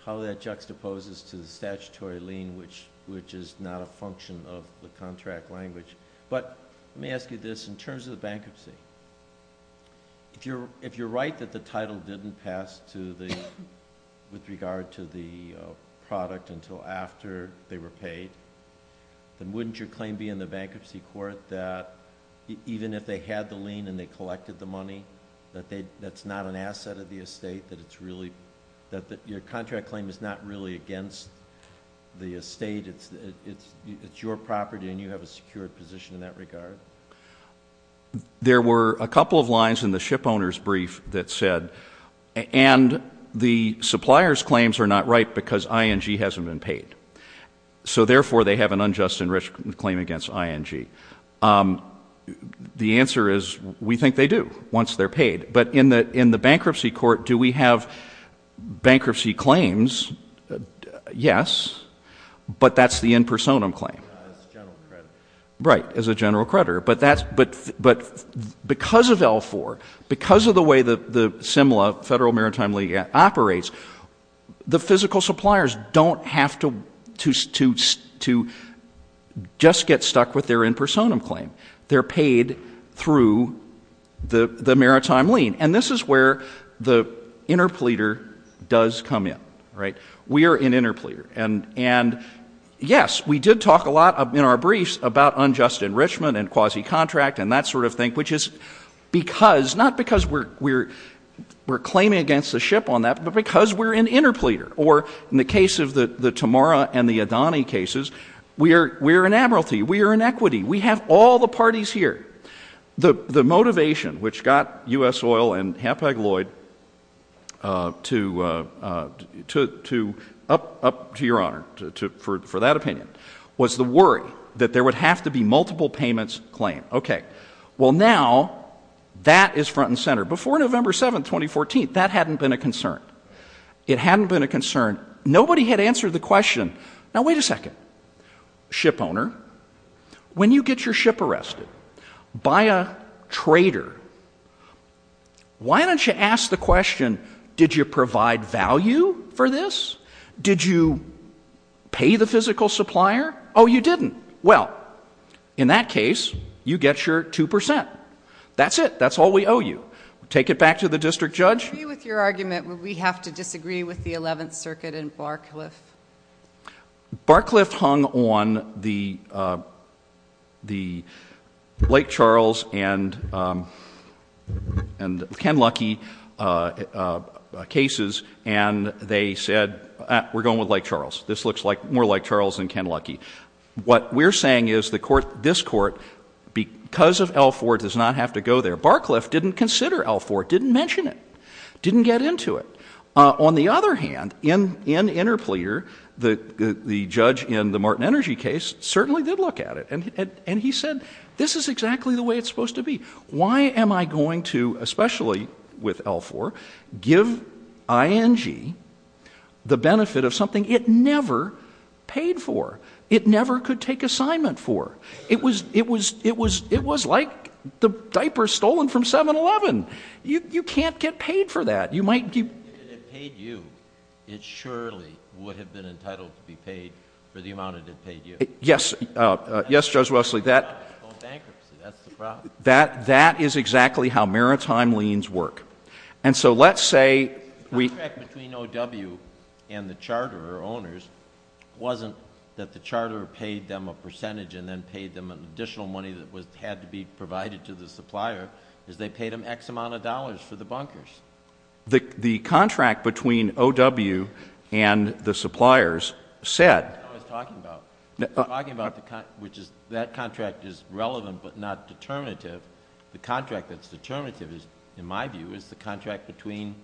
how that juxtaposes to statutory lien, which is not a function of the contract language. But let me ask you this. In terms of the bankruptcy, if you're right that the title didn't pass with regard to the product until after they were paid, then wouldn't your claim be in the bankruptcy court that even if they had the lien and they collected the money, that that's not an asset of the estate, that your contract claim is not really against the estate, it's your property and you have a secure position in that regard? There were a couple of lines in the ship owner's brief that said, and the supplier's claims are not right because ING hasn't been paid. So therefore, they have an unjust and risk claim against ING. The answer is, we think they do, once they're paid. But in the bankruptcy court, do we have bankruptcy claims? Yes, but that's the in personam claim. As a general creditor. Right, as a general creditor. But because of L-4, because of the way the similar federal maritime lien operates, the physical suppliers don't have to just get stuck with their in personam claim. They're paid through the maritime lien. And this is where the interpleader does come in. We are an interpleader. And yes, we did talk a lot in our briefs about unjust enrichment and quasi-contract and that sort of thing, which is because, not because we're claiming against the ship on that, but because we're an interpleader. Or in the case of the Tamora and the Adani cases, we're an admiralty, we're an equity, we have all the parties here. The motivation which got U.S. Oil and Hapag-Lloyd up to your honor, for that opinion, was the worry that there would have to be multiple payments claimed. Okay, well now, that is front and center. Before November 7, 2014, that hadn't been a concern. It hadn't been a concern. Nobody had answered the question, now wait a second, ship owner, when do you get your ship arrested? By a trader. Why don't you ask the question, did you provide value for this? Did you pay the physical supplier? Oh, you didn't. Well, in that case, you get your 2%. That's it. That's all we owe you. Take it back to the district judge. I agree with your argument. We have to disagree with the Eleventh Circuit and Barcliff. Barcliff hung on the Lake Charles and Ken Luckey cases and they said, we're going with Lake Charles. This looks more like Lake Charles than Ken Luckey. What we're saying is this court, because of L4, does not have to go there. Barcliff didn't consider L4, didn't mention it, didn't get into it. On the other hand, in Interfleer, the judge in the Martin Energy case certainly did look at it. And he said, this is exactly the way it's supposed to be. Why am I going to, especially with L4, give ING the benefit of something it never paid for? It never could take assignment for. It was like the diaper stolen from 7-Eleven. You can't get paid for that. If it had paid you, it surely would have been entitled to be paid for the amount it had paid you. Yes, Judge Wesley, that is exactly how maritime liens work. And so let's say we The difference between OW and the charter or owners wasn't that the charter paid them a percentage and then paid them an additional money that had to be provided to the supplier. They paid them X amount of dollars for the bunkers. The contract between OW and the suppliers said That's what I'm talking about. I'm talking about that contract is relevant but not determinative. The contract that's determinative, in my view, is the contract between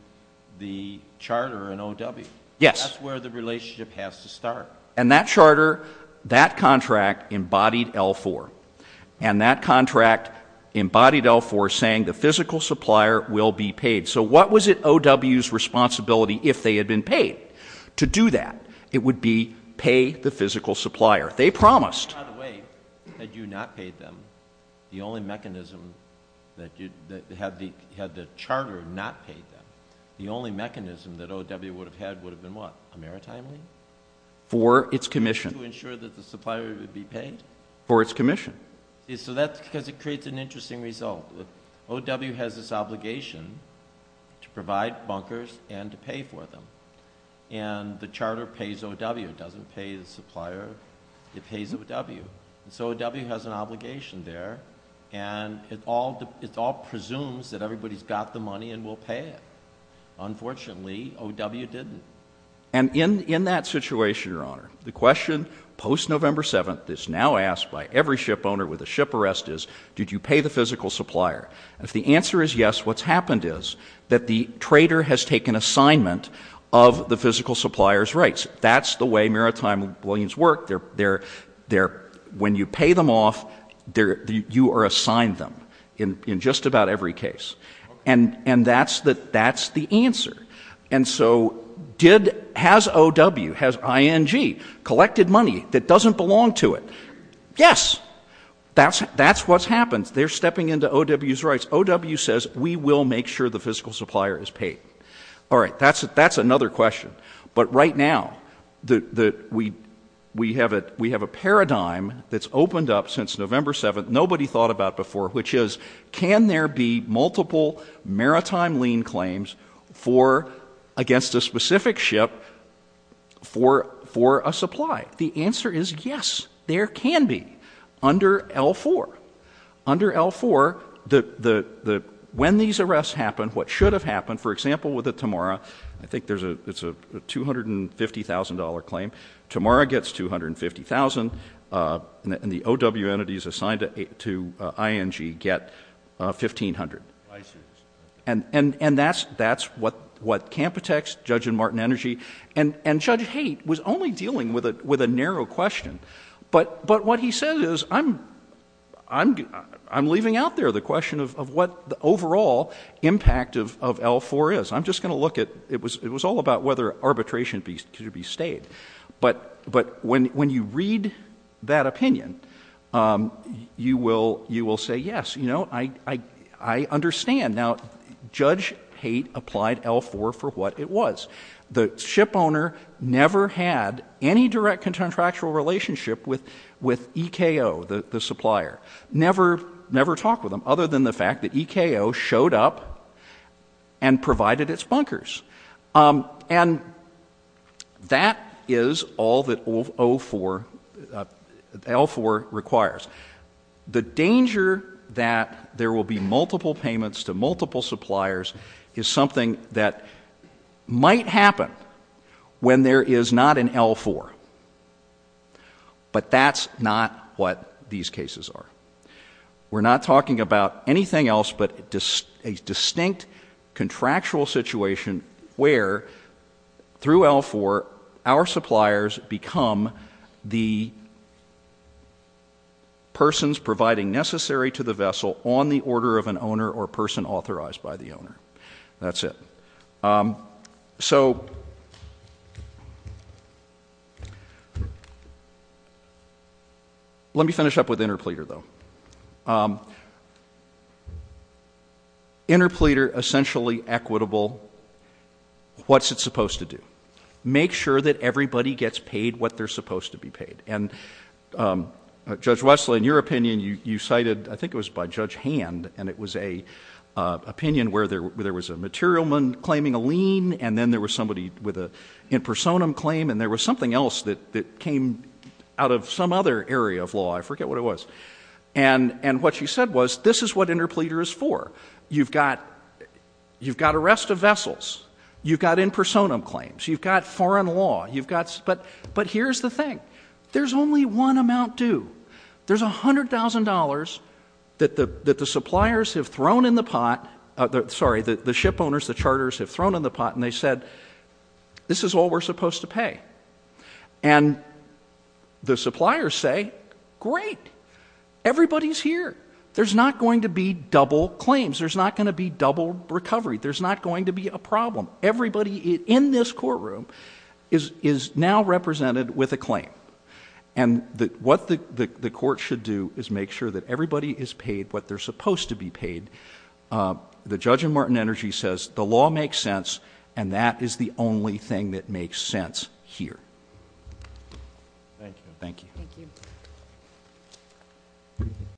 the charter and OW. Yes. That's where the relationship has to start. And that charter, that contract embodied L4. And that contract embodied L4 saying the physical supplier will be paid. So what was it OW's responsibility if they had been paid to do that? It would be pay the physical supplier. They promised. By the way, had you not paid them, the only mechanism, had the charter not paid them, the only mechanism that OW would have had would have been what? A maritime lien? For its commission. To ensure that the supplier would be paid? For its commission. So that's because it creates an interesting result. OW has this obligation to provide bunkers and to pay for them. And the charter pays OW. It doesn't pay the supplier. It pays OW. So OW has an obligation there. And it all presumes that everybody's got the money and will pay it. Unfortunately, OW didn't. And in that situation, Your Honor, the question, post-November 7th, is now asked by every shipowner with a ship arrest is, did you pay the physical supplier? If the answer is yes, what's happened is that the trader has taken assignment of the physical supplier's rights. That's the way maritime liens work. When you pay them off, you are assigned them in just about every case. And that's the answer. And so has OW, has ING collected money that doesn't belong to it? Yes. That's what's happened. They're stepping into OW's rights. OW says, we will make sure the physical supplier is paid. All right. That's another question. But right now, we have a paradigm that's opened up since November 7th, nobody thought about before, which is, can there be multiple maritime lien claims against a specific ship for a supply? The answer is yes, there can be under L4. Under L4, when these arrests happen, what should have happened, for example, with the Temora, I think it's a $250,000 claim, Temora gets $250,000, and the OW entities assigned to ING get $1,500. And that's what Campitex, Judge and Martin Energy, and Judge Haight was only dealing with a narrow question. But what he said is, I'm leaving out there the question of what the overall impact of L4 is. I'm just going to look at, it was all about whether arbitration should be stayed. But when you read that opinion, you will say, yes, I understand. Now, Judge Haight applied L4 for what it was. The ship owner never had any direct contractual relationship with EKO, the supplier, never talked with them, other than the fact that EKO showed up and provided its bunkers. And that is all that L4 requires. The danger that there will be multiple payments to multiple suppliers is something that might happen when there is not an L4. But that's not what these cases are. We're not talking about anything else but a distinct contractual situation where, through L4, our suppliers become the persons providing necessary to the vessel on the order of an owner or person authorized by the owner. That's it. So let me finish up with Interpleter, though. Interpleter, essentially equitable. What's it supposed to do? Make sure that everybody gets paid what they're supposed to be paid. And Judge Russell, in your opinion, you cited, I think it was by Judge Hand, and it was an opinion where there was a materialman claiming a lien, and then there was somebody with a personam claim, and there was something else that came out of some other area of law. I forget what it was. And what you said was, this is what Interpleter is for. You've got arrest of vessels. You've got in personam claims. You've got foreign law. But here's the thing. There's only one amount due. There's $100,000 that the suppliers have thrown in the pot. Sorry, the ship owners, the charters have thrown in the pot, and they said, this is all we're supposed to pay. And the suppliers say, great, everybody's here. There's not going to be double claims. There's not going to be double recovery. There's not going to be a problem. Everybody in this courtroom is now represented with a claim. And what the court should do is make sure that everybody is paid what they're supposed to be paid. The Judge in Martin Energy says the law makes sense, and that is the only thing that makes sense here. Thank you.